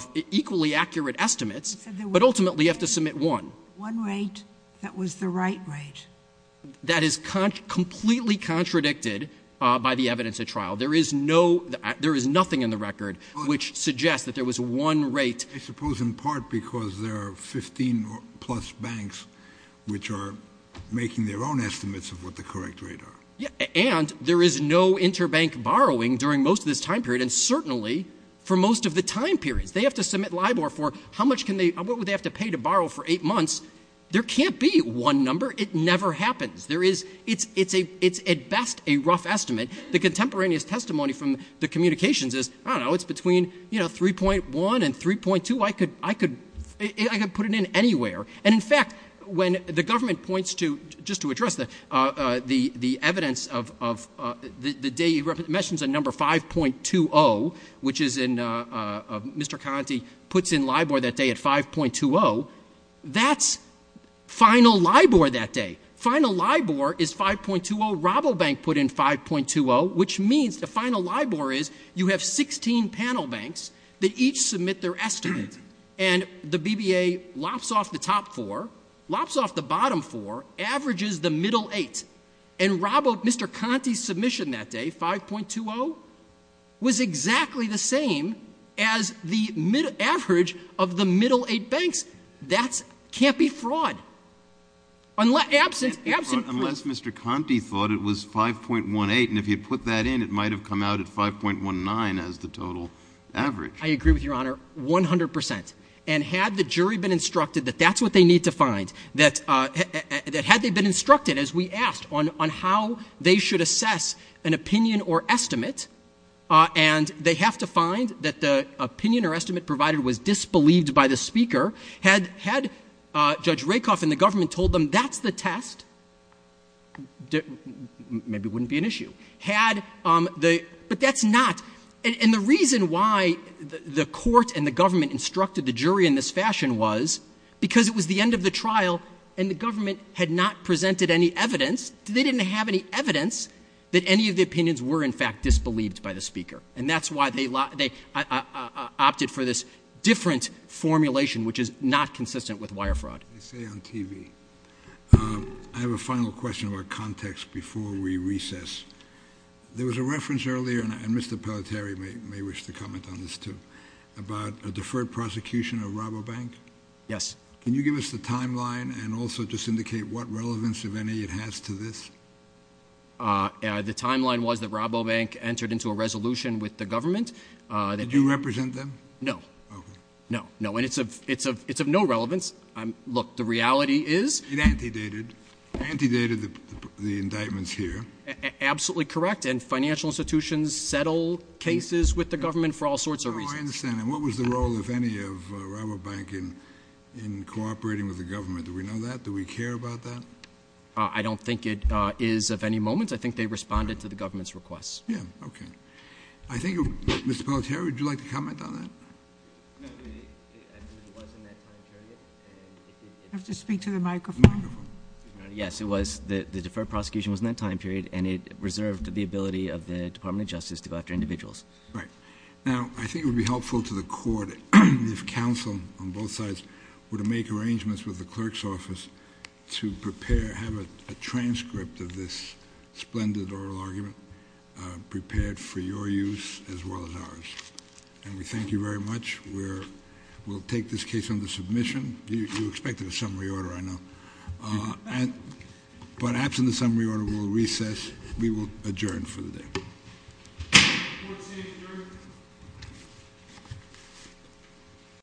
the evidence of trial. There is nothing in the record which suggests that there was one rate. I suppose in part because there are 15 plus banks which are making their own estimates of what the correct rate is. And there is no interbank borrowing during most of the time period. Certainly for most of the time period they have to pay to borrow for eight months. There can't be one number. It never happens. It's at best a rough estimate. It's between 3.1 and 3.2. I can put it in anywhere. In fact when the government points to the number 5.20 which Mr. Conaty puts in LIBOR that day at 5.20 that's final LIBOR that day. Final LIBOR is 5.20. Which means the final LIBOR is you have 16 panel banks that each submit their estimate. And the BBA lops off the top four, lops off the bottom four, averages the middle eight. And Mr. Conaty's submission that day 5.20 was exactly the same as the average of the middle eight banks. That can't be fraud. Mr. Conaty thought it was 5.18 and if you put that in it might have come out as 5.19 as the total average. I agree with your honor. 100%. And had the jury been instructed as we asked on how they should assess an opinion or estimate and they have to find that the opinion or estimate was disbelieved by the speaker, had judge told them that's the test, maybe it wouldn't be an issue, but that's not, and the reason why the court and the government instructed the jury in this fashion was because it was the end of the trial and the government had not presented any evidence that any of the opinions were in the opinion of the speaker. And that's why they opted for this different formulation which is not consistent with wire fraud. I have a final question before we recess. There was a reference earlier about a deferred prosecution of Robobank. Did you represent them? No. And it's of no relevance. Look, the reality is... It antedated the indictments here. Absolutely correct. And financial institutions settle cases with the government for all sorts of reasons. I understand that. What was the role of any of Robobank in cooperating with the government? Do we know that? Do we care about that? I don't think it is of any moment. I think they responded to the government's request. I think Mr. Robobank was helpful to the court if counsel on both sides were to make arrangements with the clerk's office to have a transcript of this splendid oral argument prepared for your use as well as ours. Thank you very much. We'll take this case under submission. You'll expect a summary order, I know. But after the summary order we'll recess. We will adjourn for the day.